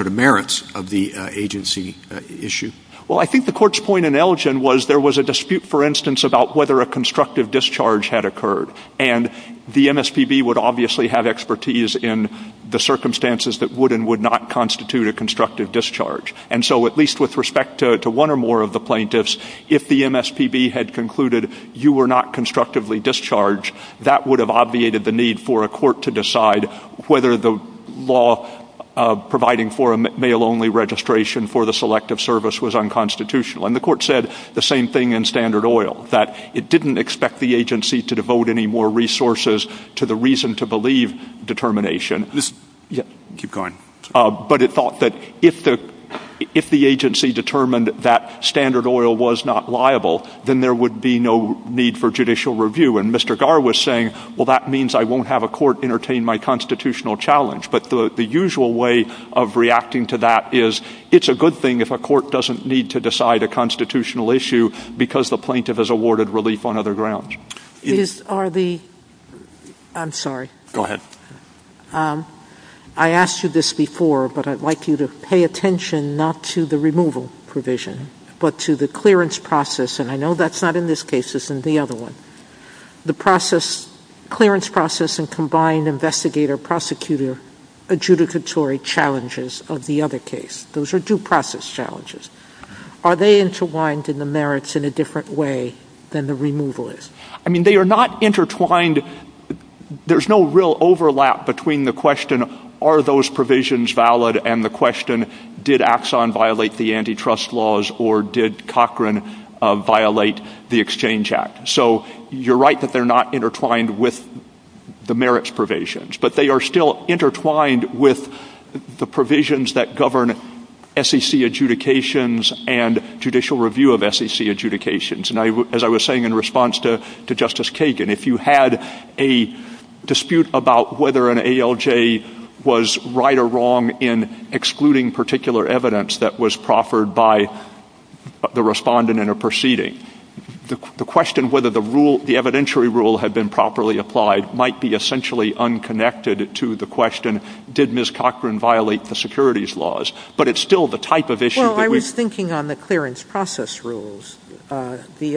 merits of the agency issue? Well, I think the court's point in Elgin was there was a dispute, for instance, about whether a constructive discharge had occurred. And the MSPB would obviously have expertise in the circumstances that would and would not constitute a constructive discharge. And so at least with respect to one or more of the plaintiffs, if the MSPB had concluded you were not constructively discharged, that would have obviated the need for a court to decide whether the law providing for a mail-only registration for the selective service was unconstitutional. And the court said the same thing in Standard Oil, that it didn't expect the agency to devote any more resources to the reason-to-believe determination. But it thought that if the agency determined that Standard Oil was not liable, then there would be no need for judicial review. And Mr. Garber was saying, well, that means I won't have a court entertain my constitutional challenge. But the usual way of reacting to that is it's a good thing if a court doesn't need to decide a constitutional issue because the plaintiff has awarded relief on other grounds. I'm sorry. Go ahead. I asked you this before, but I'd like you to pay attention not to the removal provision, but to the clearance process. And I know that's not in this case. It's in the other one. The clearance process and combined investigator-prosecutor adjudicatory challenges of the other case. Those are due process challenges. Are they intertwined in the merits in a different way than the removal is? I mean, they are not intertwined. There's no real overlap between the question, are those provisions valid, and the question, did Axon violate the antitrust laws or did Cochran violate the Exchange Act? So you're right that they're not intertwined with the merits provisions, but they are still intertwined with the provisions that govern SEC adjudications and judicial review of SEC adjudications. And as I was saying in response to Justice Kagan, if you had a dispute about whether an ALJ was right or wrong in excluding particular evidence that was proffered by the respondent in a proceeding, the question whether the evidentiary rule had been properly applied might be essentially unconnected to the question, did Ms. Cochran violate the securities laws? But it's still the type of issue that we... Well, I was thinking on the clearance process rules. The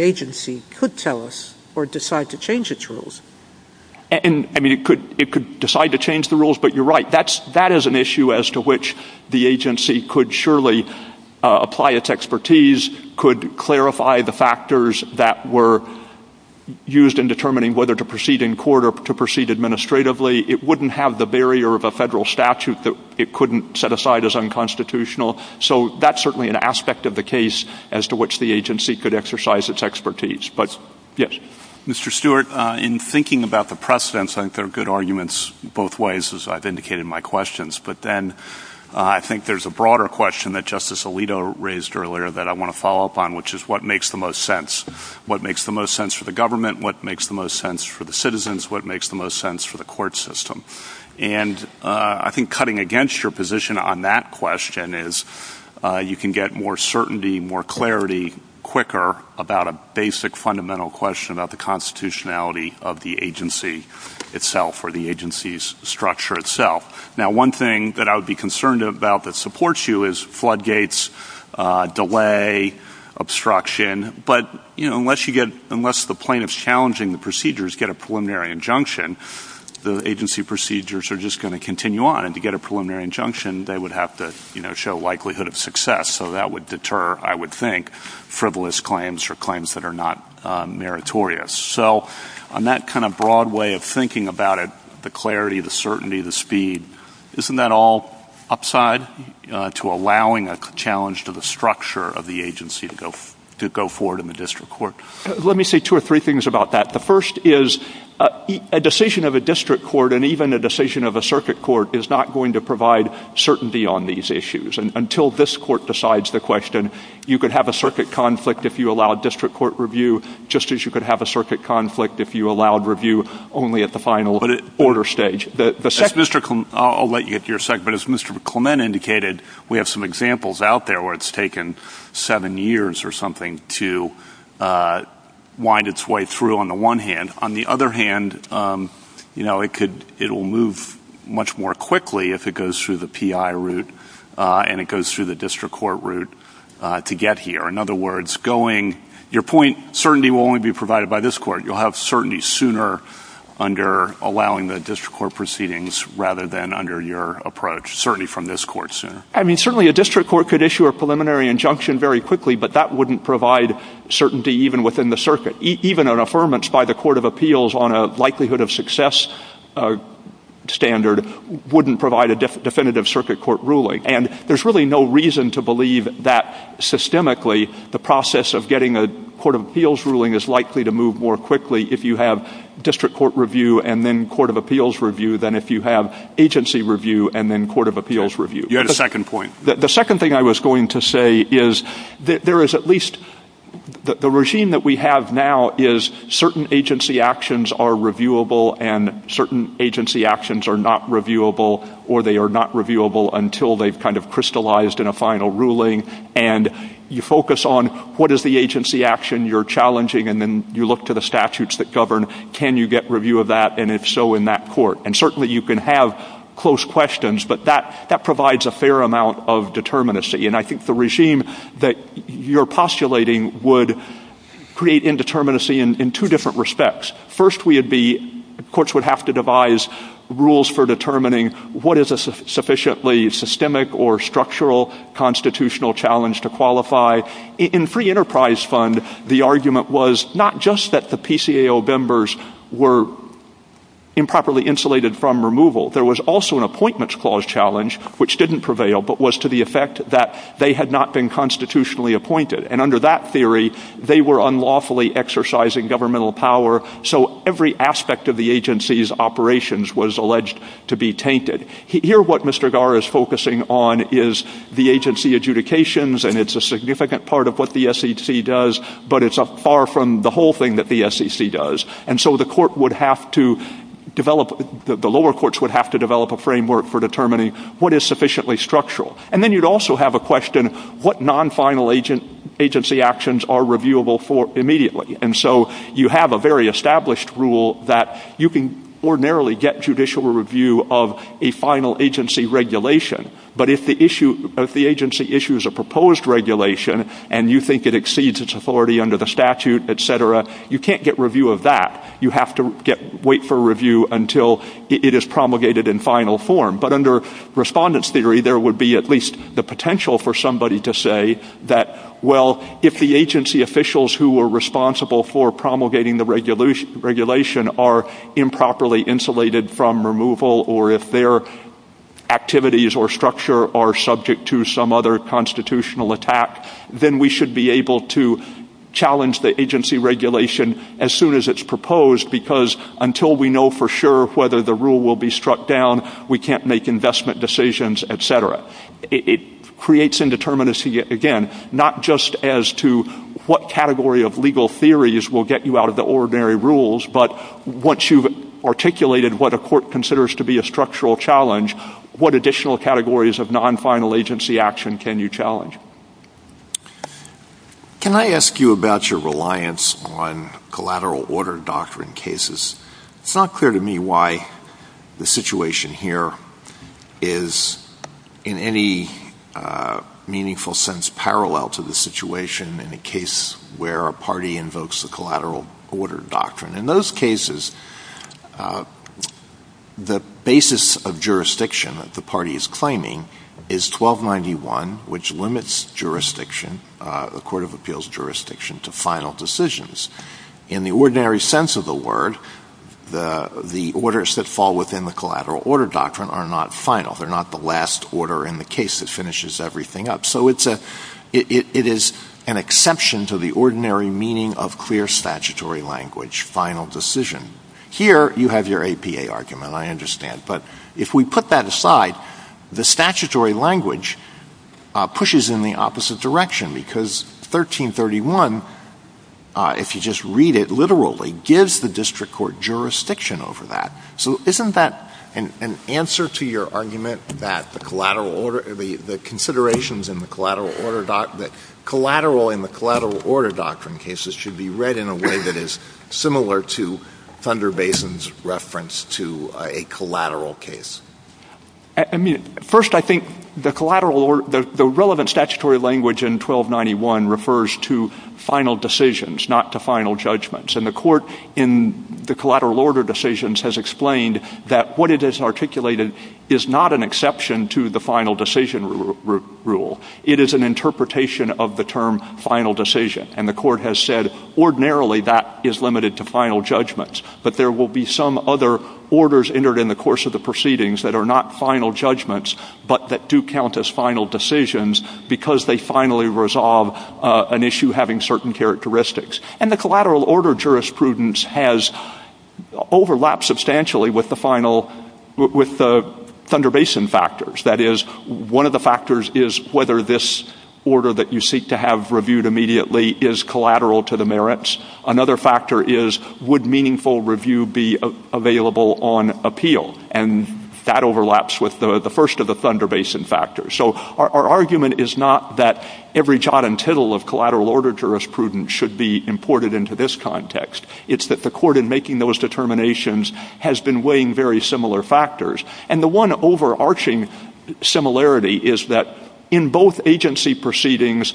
agency could tell us or decide to change its rules. I mean, it could decide to change the rules, but you're right. That is an issue as to which the agency could surely apply its expertise, could clarify the factors that were used in determining whether to proceed in court or to proceed administratively. It wouldn't have the barrier of a federal statute that it couldn't set aside as unconstitutional. So that's certainly an aspect of the case as to which the agency could exercise its expertise. But, yes. Mr. Stewart, in thinking about the precedents, I think there are good arguments both ways, as I've indicated in my questions. But then I think there's a broader question that Justice Alito raised earlier that I want to follow up on, which is what makes the most sense? What makes the most sense for the government? What makes the most sense for the citizens? What makes the most sense for the court system? And I think cutting against your position on that question is you can get more certainty, more clarity, quicker about a basic fundamental question about the constitutionality of the agency itself or the agency's structure itself. Now, one thing that I would be concerned about that supports you is floodgates, delay, obstruction. But, you know, unless the plaintiff's challenging the procedures, get a preliminary injunction, the agency procedures are just going to continue on. And to get a preliminary injunction, they would have to, you know, show likelihood of success. So that would deter, I would think, frivolous claims or claims that are not meritorious. So on that kind of broad way of thinking about it, the clarity, the certainty, the speed, isn't that all upside to allowing a challenge to the structure of the agency to go forward in the district court? Let me say two or three things about that. The first is a decision of a district court and even a decision of a circuit court is not going to provide certainty on these issues. And until this court decides the question, you could have a circuit conflict if you allowed district court review, just as you could have a circuit conflict if you allowed review only at the final order stage. I'll let you get to your second, but as Mr. Clement indicated, we have some examples out there where it's taken seven years or something to wind its way through on the one hand. On the other hand, you know, it could, it'll move much more quickly if it goes through the PI route and it goes through the district court route to get here. In other words, going, your point, certainty will only be provided by this court. You'll have certainty sooner under allowing the district court proceedings rather than under your approach, certainty from this court sooner. I mean, certainly a district court could issue a preliminary injunction very quickly, but that wouldn't provide certainty even within the circuit. Even an affirmance by the court of appeals on a likelihood of success standard wouldn't provide a definitive circuit court ruling. And there's really no reason to believe that systemically the process of getting a court of appeals ruling is likely to move more quickly if you have district court review and then court of appeals review than if you have agency review and then court of appeals review. You had a second point. The second thing I was going to say is that there is at least, the regime that we have now is certain agency actions are reviewable and certain agency actions are not reviewable or they are not reviewable until they've kind of crystallized in a final ruling. And you focus on what is the agency action you're challenging and then you look to the statutes that govern can you get review of that and if so, in that court. And certainly you can have close questions, but that provides a fair amount of determinacy. And I think the regime that you're postulating would create indeterminacy in two different respects. First, courts would have to devise rules for determining what is a sufficiently systemic or structural constitutional challenge to qualify. In Free Enterprise Fund, the argument was not just that the PCAO members were improperly insulated from removal. There was also an appointments clause challenge, which didn't prevail, but was to the effect that they had not been constitutionally appointed. And under that theory, they were unlawfully exercising governmental power, so every aspect of the agency's operations was alleged to be tainted. Here, what Mr. Garr is focusing on is the agency adjudications and it's a significant part of what the SEC does, but it's far from the whole thing that the SEC does. And so the lower courts would have to develop a framework for determining what is sufficiently structural. And then you'd also have a question, what non-final agency actions are reviewable for immediately? And so you have a very established rule that you can ordinarily get judicial review of a final agency regulation, but if the agency issues a proposed regulation and you think it exceeds its authority under the statute, etc., you can't get review of that. You have to wait for review until it is promulgated in final form. But under respondent's theory, there would be at least the potential for somebody to say that, well, if the agency officials who were responsible for promulgating the regulation are improperly insulated from removal, or if their activities or structure are subject to some other constitutional attack, then we should be able to challenge the agency regulation as soon as it's proposed, because until we know for sure whether the rule will be struck down, we can't make investment decisions, etc. It creates indeterminacy again, not just as to what category of legal theories will get you out of the ordinary rules, but once you've articulated what a court considers to be a structural challenge, what additional categories of non-final agency action can you challenge? Can I ask you about your reliance on collateral order doctrine cases? It's not clear to me why the situation here is, in any meaningful sense, parallel to the situation in a case where a party invokes the collateral order doctrine. In those cases, the basis of jurisdiction that the party is claiming is 1291, which limits jurisdiction, a court of appeals jurisdiction, to final decisions. In the ordinary sense of the word, the orders that fall within the collateral order doctrine are not final. They're not the last order in the case that finishes everything up. It is an exception to the ordinary meaning of clear statutory language, final decision. Here, you have your APA argument, I understand. But if we put that aside, the statutory language pushes in the opposite direction, because 1331, if you just read it literally, gives the district court jurisdiction over that. So isn't that an answer to your argument that the considerations in the collateral order doctrine cases should be read in a way that is similar to Thunder Basin's reference to a collateral case? First, I think the relevant statutory language in 1291 refers to final decisions, not to final judgments. And the court in the collateral order decisions has explained that what it has articulated is not an exception to the final decision rule. It is an interpretation of the term final decision. And the court has said, ordinarily, that is limited to final judgments. But there will be some other orders entered in the course of the proceedings that are not final judgments, but that do count as final decisions, because they finally resolve an issue having certain characteristics. And the collateral order jurisprudence has overlapped substantially with the Thunder Basin factors. That is, one of the factors is whether this order that you seek to have reviewed immediately is collateral to the merits. Another factor is, would meaningful review be available on appeal? And that overlaps with the first of the Thunder Basin factors. So our argument is not that every jot and tittle of collateral order jurisprudence should be imported into this context. It's that the court in making those determinations has been weighing very similar factors. And the one overarching similarity is that in both agency proceedings,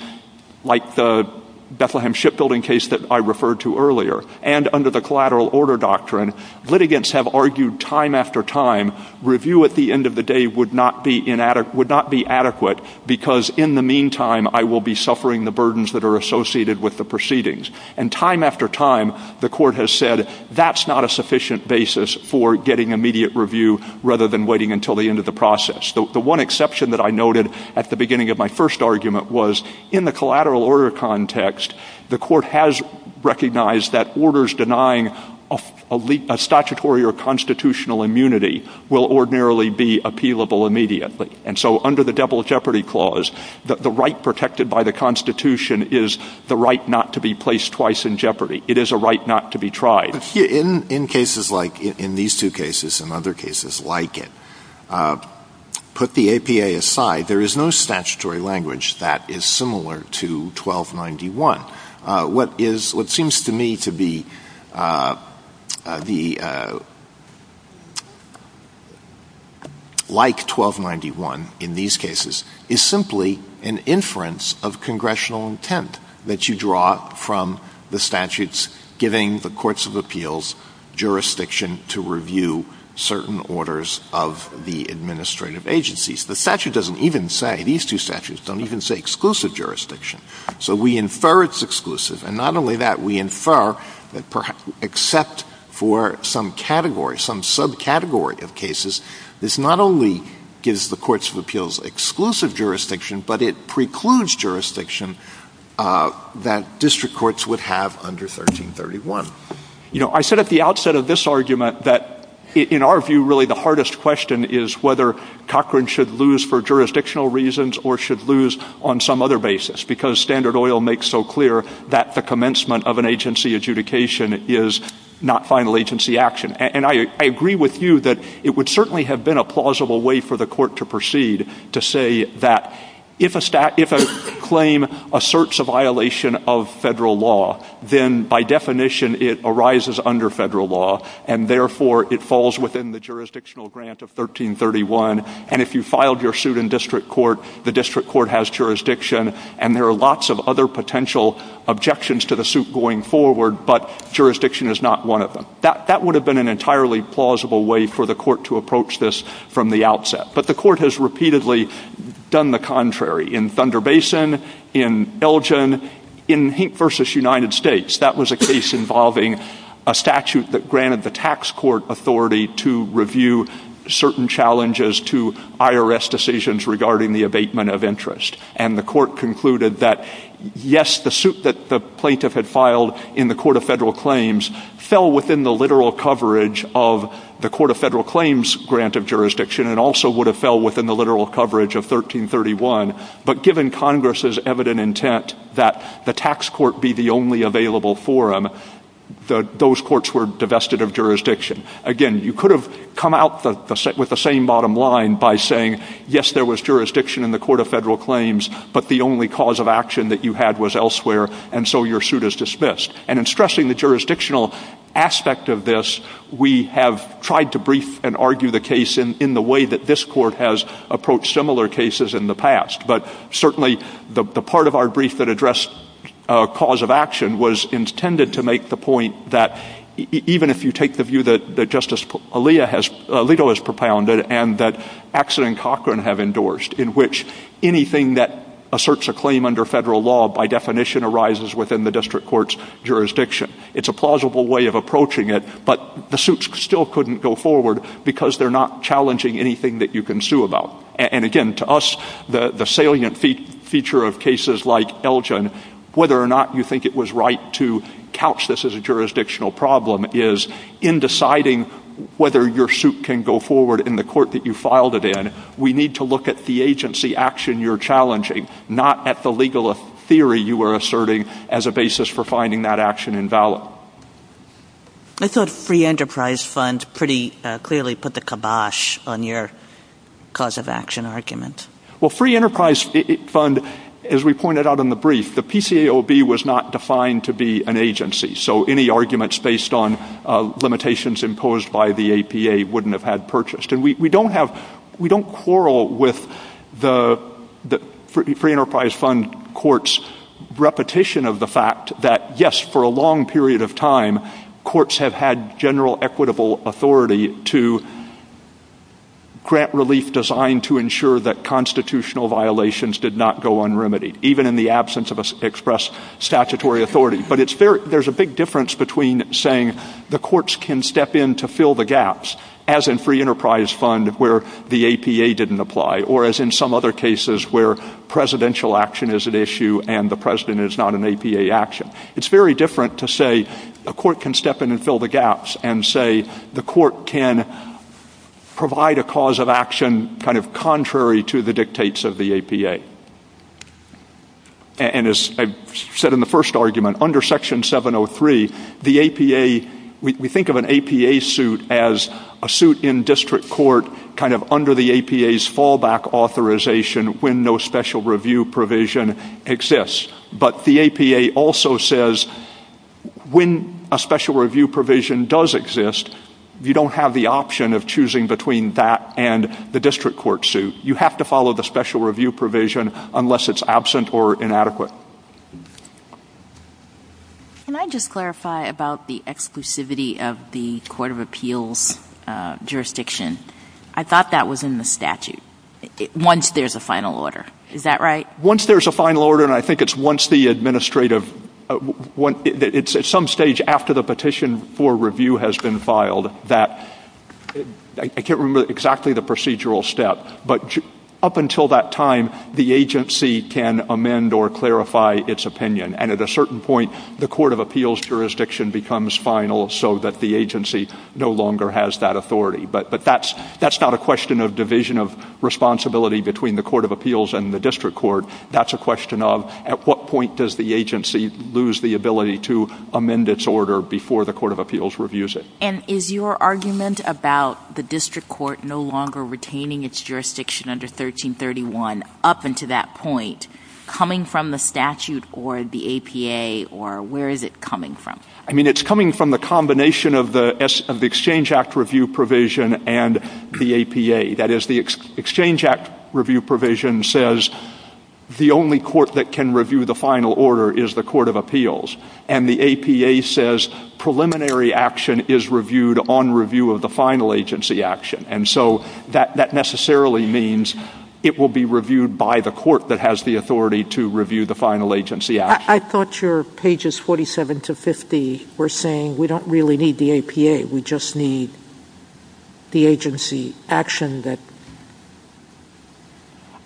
like the Bethlehem Shipbuilding case that I referred to earlier, and under the collateral order doctrine, litigants have argued time after time, review at the end of the day would not be adequate, because in the meantime, I will be suffering the burdens that are associated with the proceedings. And time after time, the court has said, that's not a sufficient basis for getting immediate review, rather than waiting until the end of the process. The one exception that I noted at the beginning of my first argument was, in the collateral order context, the court has recognized that orders denying a statutory or constitutional immunity will ordinarily be appealable immediately. And so under the double jeopardy clause, the right protected by the Constitution is the right not to be placed twice in jeopardy. It is a right not to be tried. In these two cases and other cases like it, put the APA aside, there is no statutory language that is similar to 1291. What seems to me to be like 1291 in these cases is simply an inference of congressional intent that you draw from the statutes giving the courts of appeals jurisdiction to review certain orders of the administrative agencies. The statute doesn't even say, these two statutes don't even say exclusive jurisdiction. So we infer it's exclusive. And not only that, we infer that except for some category, some subcategory of cases, this not only gives the courts of appeals exclusive jurisdiction, but it precludes jurisdiction that district courts would have under 1331. You know, I said at the outset of this argument that in our view, really, the hardest question is whether Cochran should lose for jurisdictional reasons or should lose on some other basis, because Standard Oil makes so clear that the commencement of an agency adjudication is not final agency action. And I agree with you that it would certainly have been a plausible way for the court to proceed to say that if a claim asserts a violation of federal law, then by definition it arises under federal law, and therefore it falls within the jurisdictional grant of 1331. And if you filed your suit in district court, the district court has jurisdiction, and there are lots of other potential objections to the suit going forward, but jurisdiction is not one of them. That would have been an entirely plausible way for the court to approach this from the outset. But the court has repeatedly done the contrary in Thunder Basin, in Belgium, in Hink v. United States. That was a case involving a statute that granted the tax court authority to review certain challenges to IRS decisions regarding the abatement of interest. And the court concluded that yes, the suit that the plaintiff had filed in the court of federal claims fell within the literal coverage of the court of federal claims grant of jurisdiction and also would have fell within the literal coverage of 1331. But given Congress's evident intent that the tax court be the only available forum, those courts were divested of jurisdiction. Again, you could have come out with the same bottom line by saying, yes, there was jurisdiction in the court of federal claims, but the only cause of action that you had was elsewhere, and so your suit is dismissed. And in stressing the jurisdictional aspect of this, we have tried to brief and argue the case in the way that this court has approached similar cases in the past. But certainly the part of our brief that addressed cause of action was intended to make the point that even if you take the view that Justice Alito has propounded and that Axel and Cochran have endorsed, in which anything that asserts a claim under federal law by definition arises within the district courts, jurisdiction, it's a plausible way of approaching it, but the suits still couldn't go forward because they're not challenging anything that you can sue about. And again, to us, the salient feature of cases like Elgin, whether or not you think it was right to couch this as a jurisdictional problem is in deciding whether your suit can go forward in the court that you filed it in, we need to look at the agency action you're challenging, not at the legal theory you are asserting as a basis for finding that action invalid. I thought Free Enterprise Fund pretty clearly put the kibosh on your cause of action argument. Well, Free Enterprise Fund, as we pointed out in the brief, the PCAOB was not defined to be an agency, so any arguments based on limitations imposed by the APA wouldn't have had purchased. And we don't have, we don't quarrel with the Free Enterprise Fund courts' repetition of the fact that, yes, for a long period of time, courts have had general equitable authority to grant relief designed to ensure that constitutional violations did not go unremitied, even in the absence of expressed statutory authority. But there's a big difference between saying the courts can step in to fill the gaps, as in Free Enterprise Fund where the APA didn't apply, or as in some other cases where presidential action is an issue and the president is not an APA action. It's very different to say the court can step in and fill the gaps and say the court can provide a cause of action kind of contrary to the dictates of the APA. And as I said in the first argument, under Section 703, the APA, we think of an APA suit as a suit in district court kind of under the APA's fallback authorization when no special review provision exists. But the APA also says when a special review provision does exist, you don't have the option of choosing between that and the district court suit. You have to follow the special review provision unless it's absent or inadequate. Can I just clarify about the exclusivity of the Court of Appeals jurisdiction? I thought that was in the statute, once there's a final order. Is that right? Once there's a final order, and I think it's once the administrative, it's at some stage after the petition for review has been filed that, I can't remember exactly the procedural step, but up until that time, the agency can amend or clarify its opinion. And at a certain point, the Court of Appeals jurisdiction becomes final so that the agency no longer has that authority. But that's not a question of division of responsibility between the Court of Appeals and the district court. That's a question of at what point does the agency lose the ability to amend its order before the Court of Appeals reviews it. And is your argument about the district court no longer retaining its jurisdiction under 1331, up until that point, coming from the statute or the APA, or where is it coming from? I mean, it's coming from the combination of the Exchange Act review provision and the APA. That is, the Exchange Act review provision says the only court that can review the final order is the Court of Appeals. And the APA says preliminary action is reviewed on review of the final agency action. And so that necessarily means it will be reviewed by the court that has the authority to review the final agency action. I thought your pages 47 to 50 were saying we don't really need the APA. We just need the agency action that...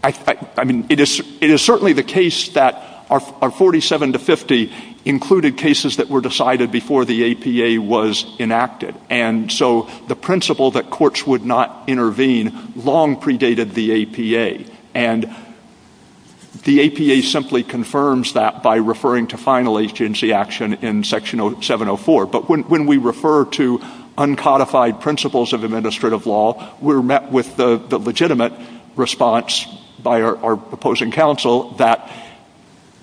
It is certainly the case that our 47 to 50 included cases that were decided before the APA was enacted. And so the principle that courts would not intervene long predated the APA. And the APA simply confirms that by referring to final agency action in Section 704. But when we refer to uncodified principles of administrative law, we're met with the legitimate response by our opposing counsel that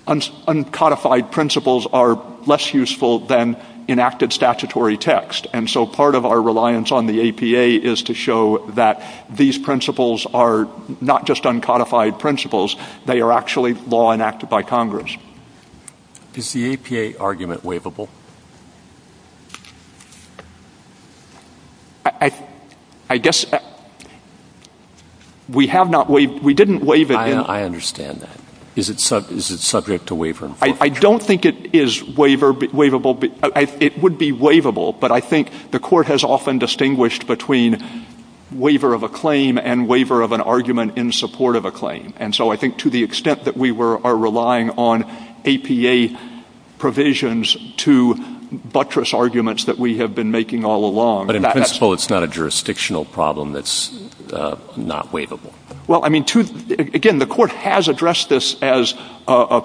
uncodified principles are less useful than enacted statutory text. And so part of our reliance on the APA is to show that these principles are not just uncodified principles. They are actually law enacted by Congress. Is the APA argument waivable? I guess... We have not waived... We didn't waive it yet. I understand that. Is it subject to waiver? I don't think it is waivable. It would be waivable. But I think the court has often distinguished between waiver of a claim and waiver of an argument in support of a claim. And so I think to the extent that we are relying on APA provisions to buttress arguments that we have been making all along... But in principle, it's not a jurisdictional problem that's not waivable. Well, I mean, again, the court has addressed this as a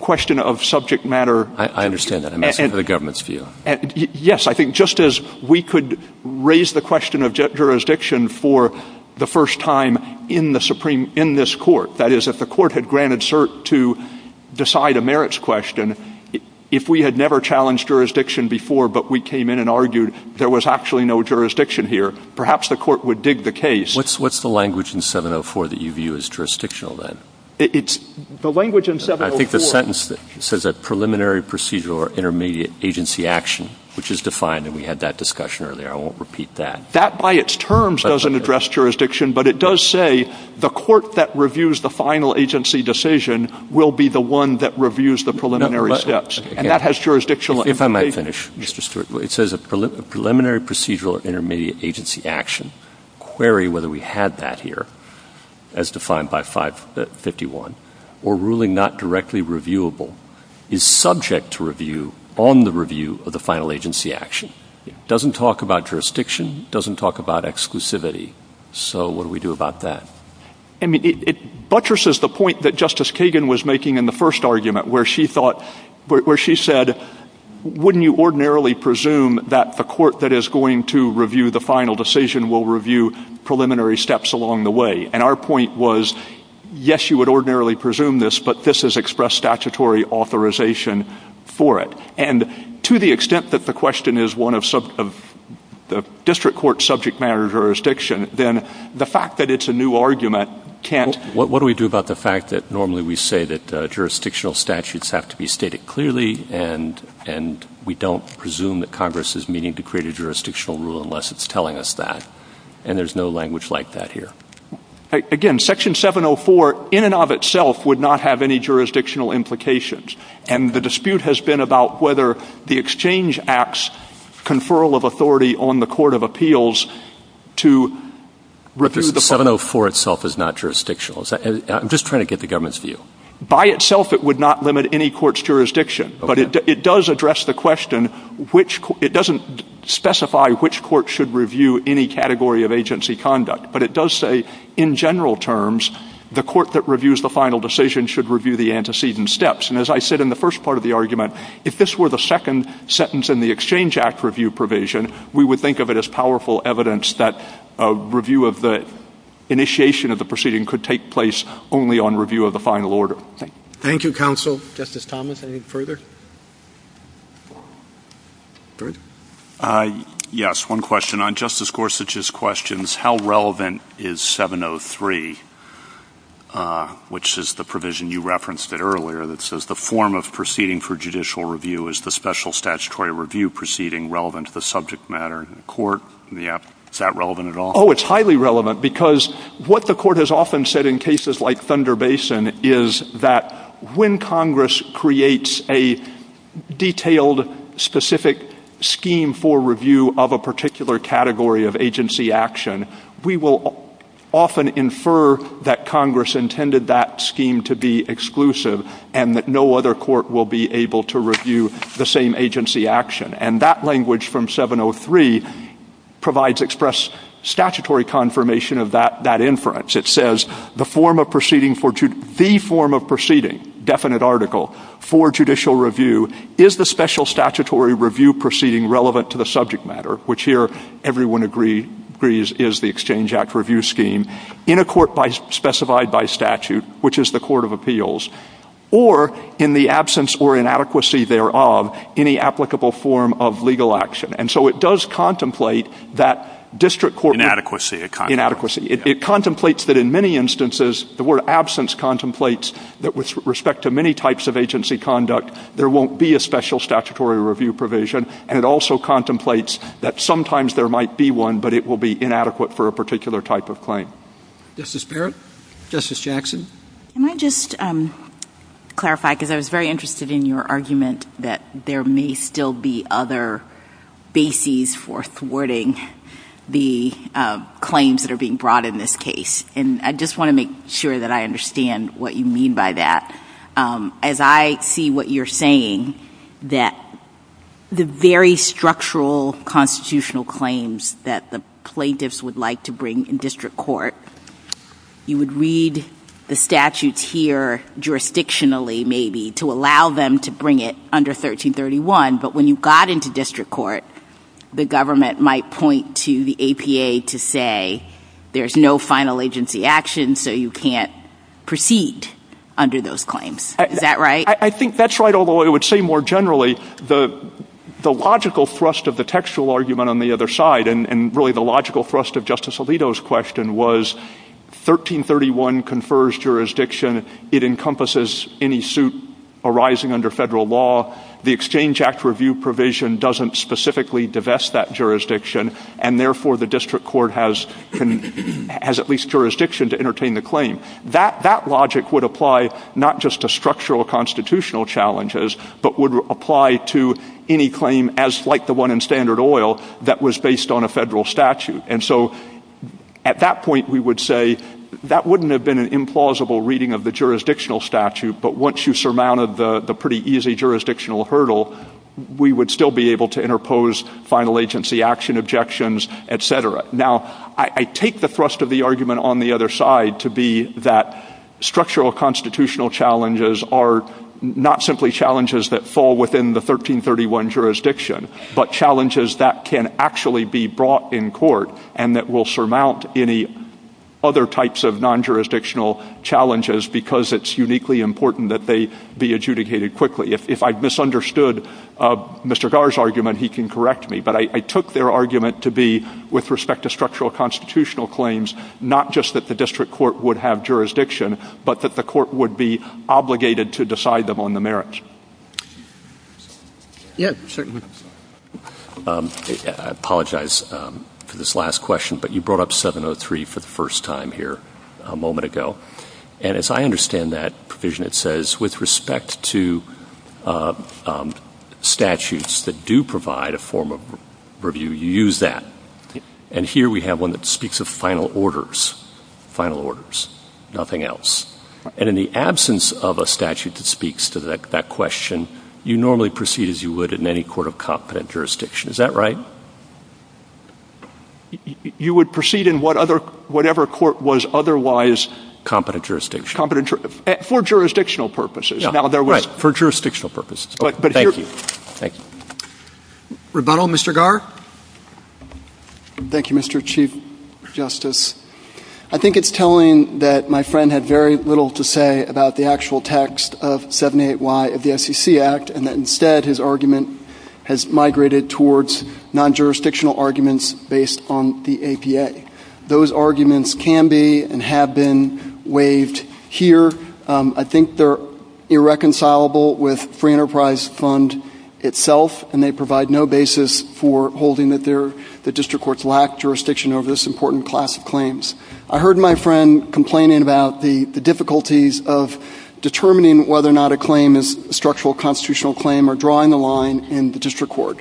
question of subject matter... I understand that. I'm asking for the government's view. Yes, I think just as we could raise the question of jurisdiction for the first time in this court... That is, if the court had granted cert to decide a merits question, if we had never challenged jurisdiction before but we came in and argued there was actually no jurisdiction here, perhaps the court would dig the case. What's the language in 704 that you view as jurisdictional then? The language in 704... I think the sentence says that preliminary procedural or intermediate agency action, which is defined, and we had that discussion earlier. I won't repeat that. That by its terms doesn't address jurisdiction, but it does say the court that reviews the final agency decision will be the one that reviews the preliminary steps. And that has jurisdictional... If I might finish. It says preliminary procedural or intermediate agency action. Query whether we had that here, as defined by 551, or ruling not directly reviewable is subject to review on the review of the final agency action. It doesn't talk about jurisdiction. It doesn't talk about exclusivity. So what do we do about that? I mean, it buttresses the point that Justice Kagan was making in the first argument where she thought... where she said, wouldn't you ordinarily presume that the court that is going to review the final decision will review preliminary steps along the way? And our point was, yes, you would ordinarily presume this, but this has expressed statutory authorization for it. And to the extent that the question is one of district court subject matter jurisdiction, then the fact that it's a new argument can't... What do we do about the fact that normally we say that jurisdictional statutes have to be stated clearly and we don't presume that Congress is meeting to create a jurisdictional rule unless it's telling us that? And there's no language like that here. Again, Section 704 in and of itself would not have any jurisdictional implications. And the dispute has been about whether the Exchange Act's conferral of authority on the Court of Appeals to review the final... 704 itself is not jurisdictional. I'm just trying to get the government's view. By itself, it would not limit any court's jurisdiction, but it does address the question which... It doesn't specify which court should review any category of agency conduct, but it does say in general terms the court that reviews the final decision should review the antecedent steps. And as I said in the first part of the argument, if this were the second sentence in the Exchange Act review provision, we would think of it as powerful evidence that a review of the initiation of the proceeding could take place only on review of the final order. Thank you. Thank you, Counsel. Justice Thomas, any further? Yes, one question. On Justice Gorsuch's questions, how relevant is 703, which is the provision you referenced earlier that says the form of proceeding for judicial review is the special statutory review proceeding relevant to the subject matter in the court? Is that relevant at all? Oh, it's highly relevant, because what the court has often said in cases like Thunder Basin is that when Congress creates a detailed, specific scheme for review of a particular category of agency action, we will often infer that Congress intended that scheme to be exclusive and that no other court will be able to review the same agency action. And that language from 703 provides express statutory confirmation of that inference. It says the form of proceeding, the form of proceeding, definite article, for judicial review is the special statutory review proceeding relevant to the subject matter, which here everyone agrees is the Exchange Act review scheme, in a court specified by statute, which is the court of appeals, or in the absence or inadequacy thereof, any applicable form of legal action. And so it does contemplate that district court... Inadequacy. Inadequacy. It contemplates that in many instances the word absence contemplates that with respect to many types of agency conduct, there won't be a special statutory review provision, and it also contemplates that sometimes there might be one, but it will be inadequate for a particular type of claim. Justice Barrett? Justice Jackson? Can I just clarify, because I was very interested in your argument that there may still be other bases for thwarting the claims that are being brought in this case. And I just want to make sure that I understand what you mean by that. As I see what you're saying, that the very structural constitutional claims that the plaintiffs would like to bring in district court, you would read the statute here jurisdictionally, maybe, to allow them to bring it under 1331, but when you got into district court, the government might point to the APA to say there's no final agency action, so you can't proceed under those claims. Is that right? I think that's right, although I would say more generally, the logical thrust of the textual argument on the other side, and really the logical thrust of Justice Alito's question, was 1331 confers jurisdiction. It encompasses any suit arising under federal law. The Exchange Act review provision doesn't specifically divest that jurisdiction, and therefore the district court has at least jurisdiction to entertain the claim. That logic would apply not just to structural constitutional challenges, but would apply to any claim, like the one in Standard Oil, that was based on a federal statute. And so at that point we would say, that wouldn't have been an implausible reading of the jurisdictional statute, but once you surmounted the pretty easy jurisdictional hurdle, we would still be able to interpose final agency action objections, etc. Now, I take the thrust of the argument on the other side to be that structural constitutional challenges are not simply challenges that fall within the 1331 jurisdiction, but challenges that can actually be brought in court, and that will surmount any other types of non-jurisdictional challenges, because it's uniquely important that they be adjudicated quickly. If I've misunderstood Mr. Gar's argument, he can correct me. But I took their argument to be, with respect to structural constitutional claims, not just that the district court would have jurisdiction, but that the court would be obligated to decide them on the merits. Yeah, certainly. I apologize for this last question, but you brought up 703 for the first time here a moment ago. And as I understand that provision, it says, with respect to statutes that do provide a form of review, you use that. And here we have one that speaks of final orders, final orders, nothing else. And in the absence of a statute that speaks to that question, you normally proceed as you would in any court of competent jurisdiction. Is that right? You would proceed in whatever court was otherwise competent jurisdiction. For jurisdictional purposes. Right, for jurisdictional purposes. Thank you. Rebuttal, Mr. Gar? Thank you, Mr. Chief Justice. I think it's telling that my friend had very little to say about the actual text of 78Y of the SEC Act, and that instead his argument has migrated towards non-jurisdictional arguments based on the APA. Those arguments can be and have been waived here. I think they're irreconcilable with Free Enterprise Fund itself, and they provide no basis for holding that the district courts lack jurisdiction over this important class of claims. I heard my friend complaining about the difficulties of determining whether or not a claim is a structural constitutional claim or drawing the line in the district court.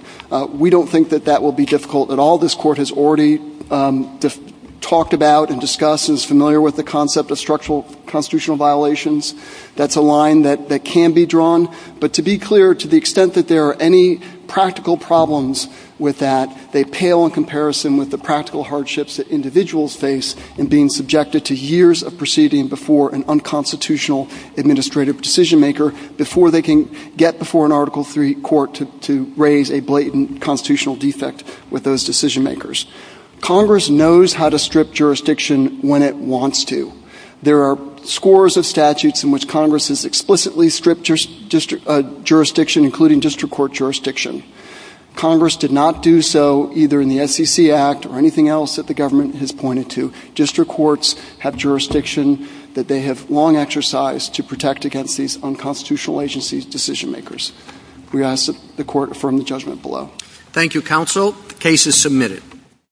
We don't think that that will be difficult at all. This Court has already talked about and discussed and is familiar with the concept of structural constitutional violations. That's a line that can be drawn. But to be clear, to the extent that there are any practical problems with that, they pale in comparison with the practical hardships that individuals face in being subjected to years of proceeding before an unconstitutional administrative decision-maker before they can get before an Article III court to raise a blatant constitutional defect with those decision-makers. Congress knows how to strip jurisdiction when it wants to. There are scores of statutes in which Congress has explicitly stripped jurisdiction, including district court jurisdiction. Congress did not do so either in the SEC Act or anything else that the government has pointed to. District courts have jurisdiction that they have long exercised to protect against these unconstitutional agencies' decision-makers. We ask that the Court affirm the judgment below. Thank you, Counsel. The case is submitted.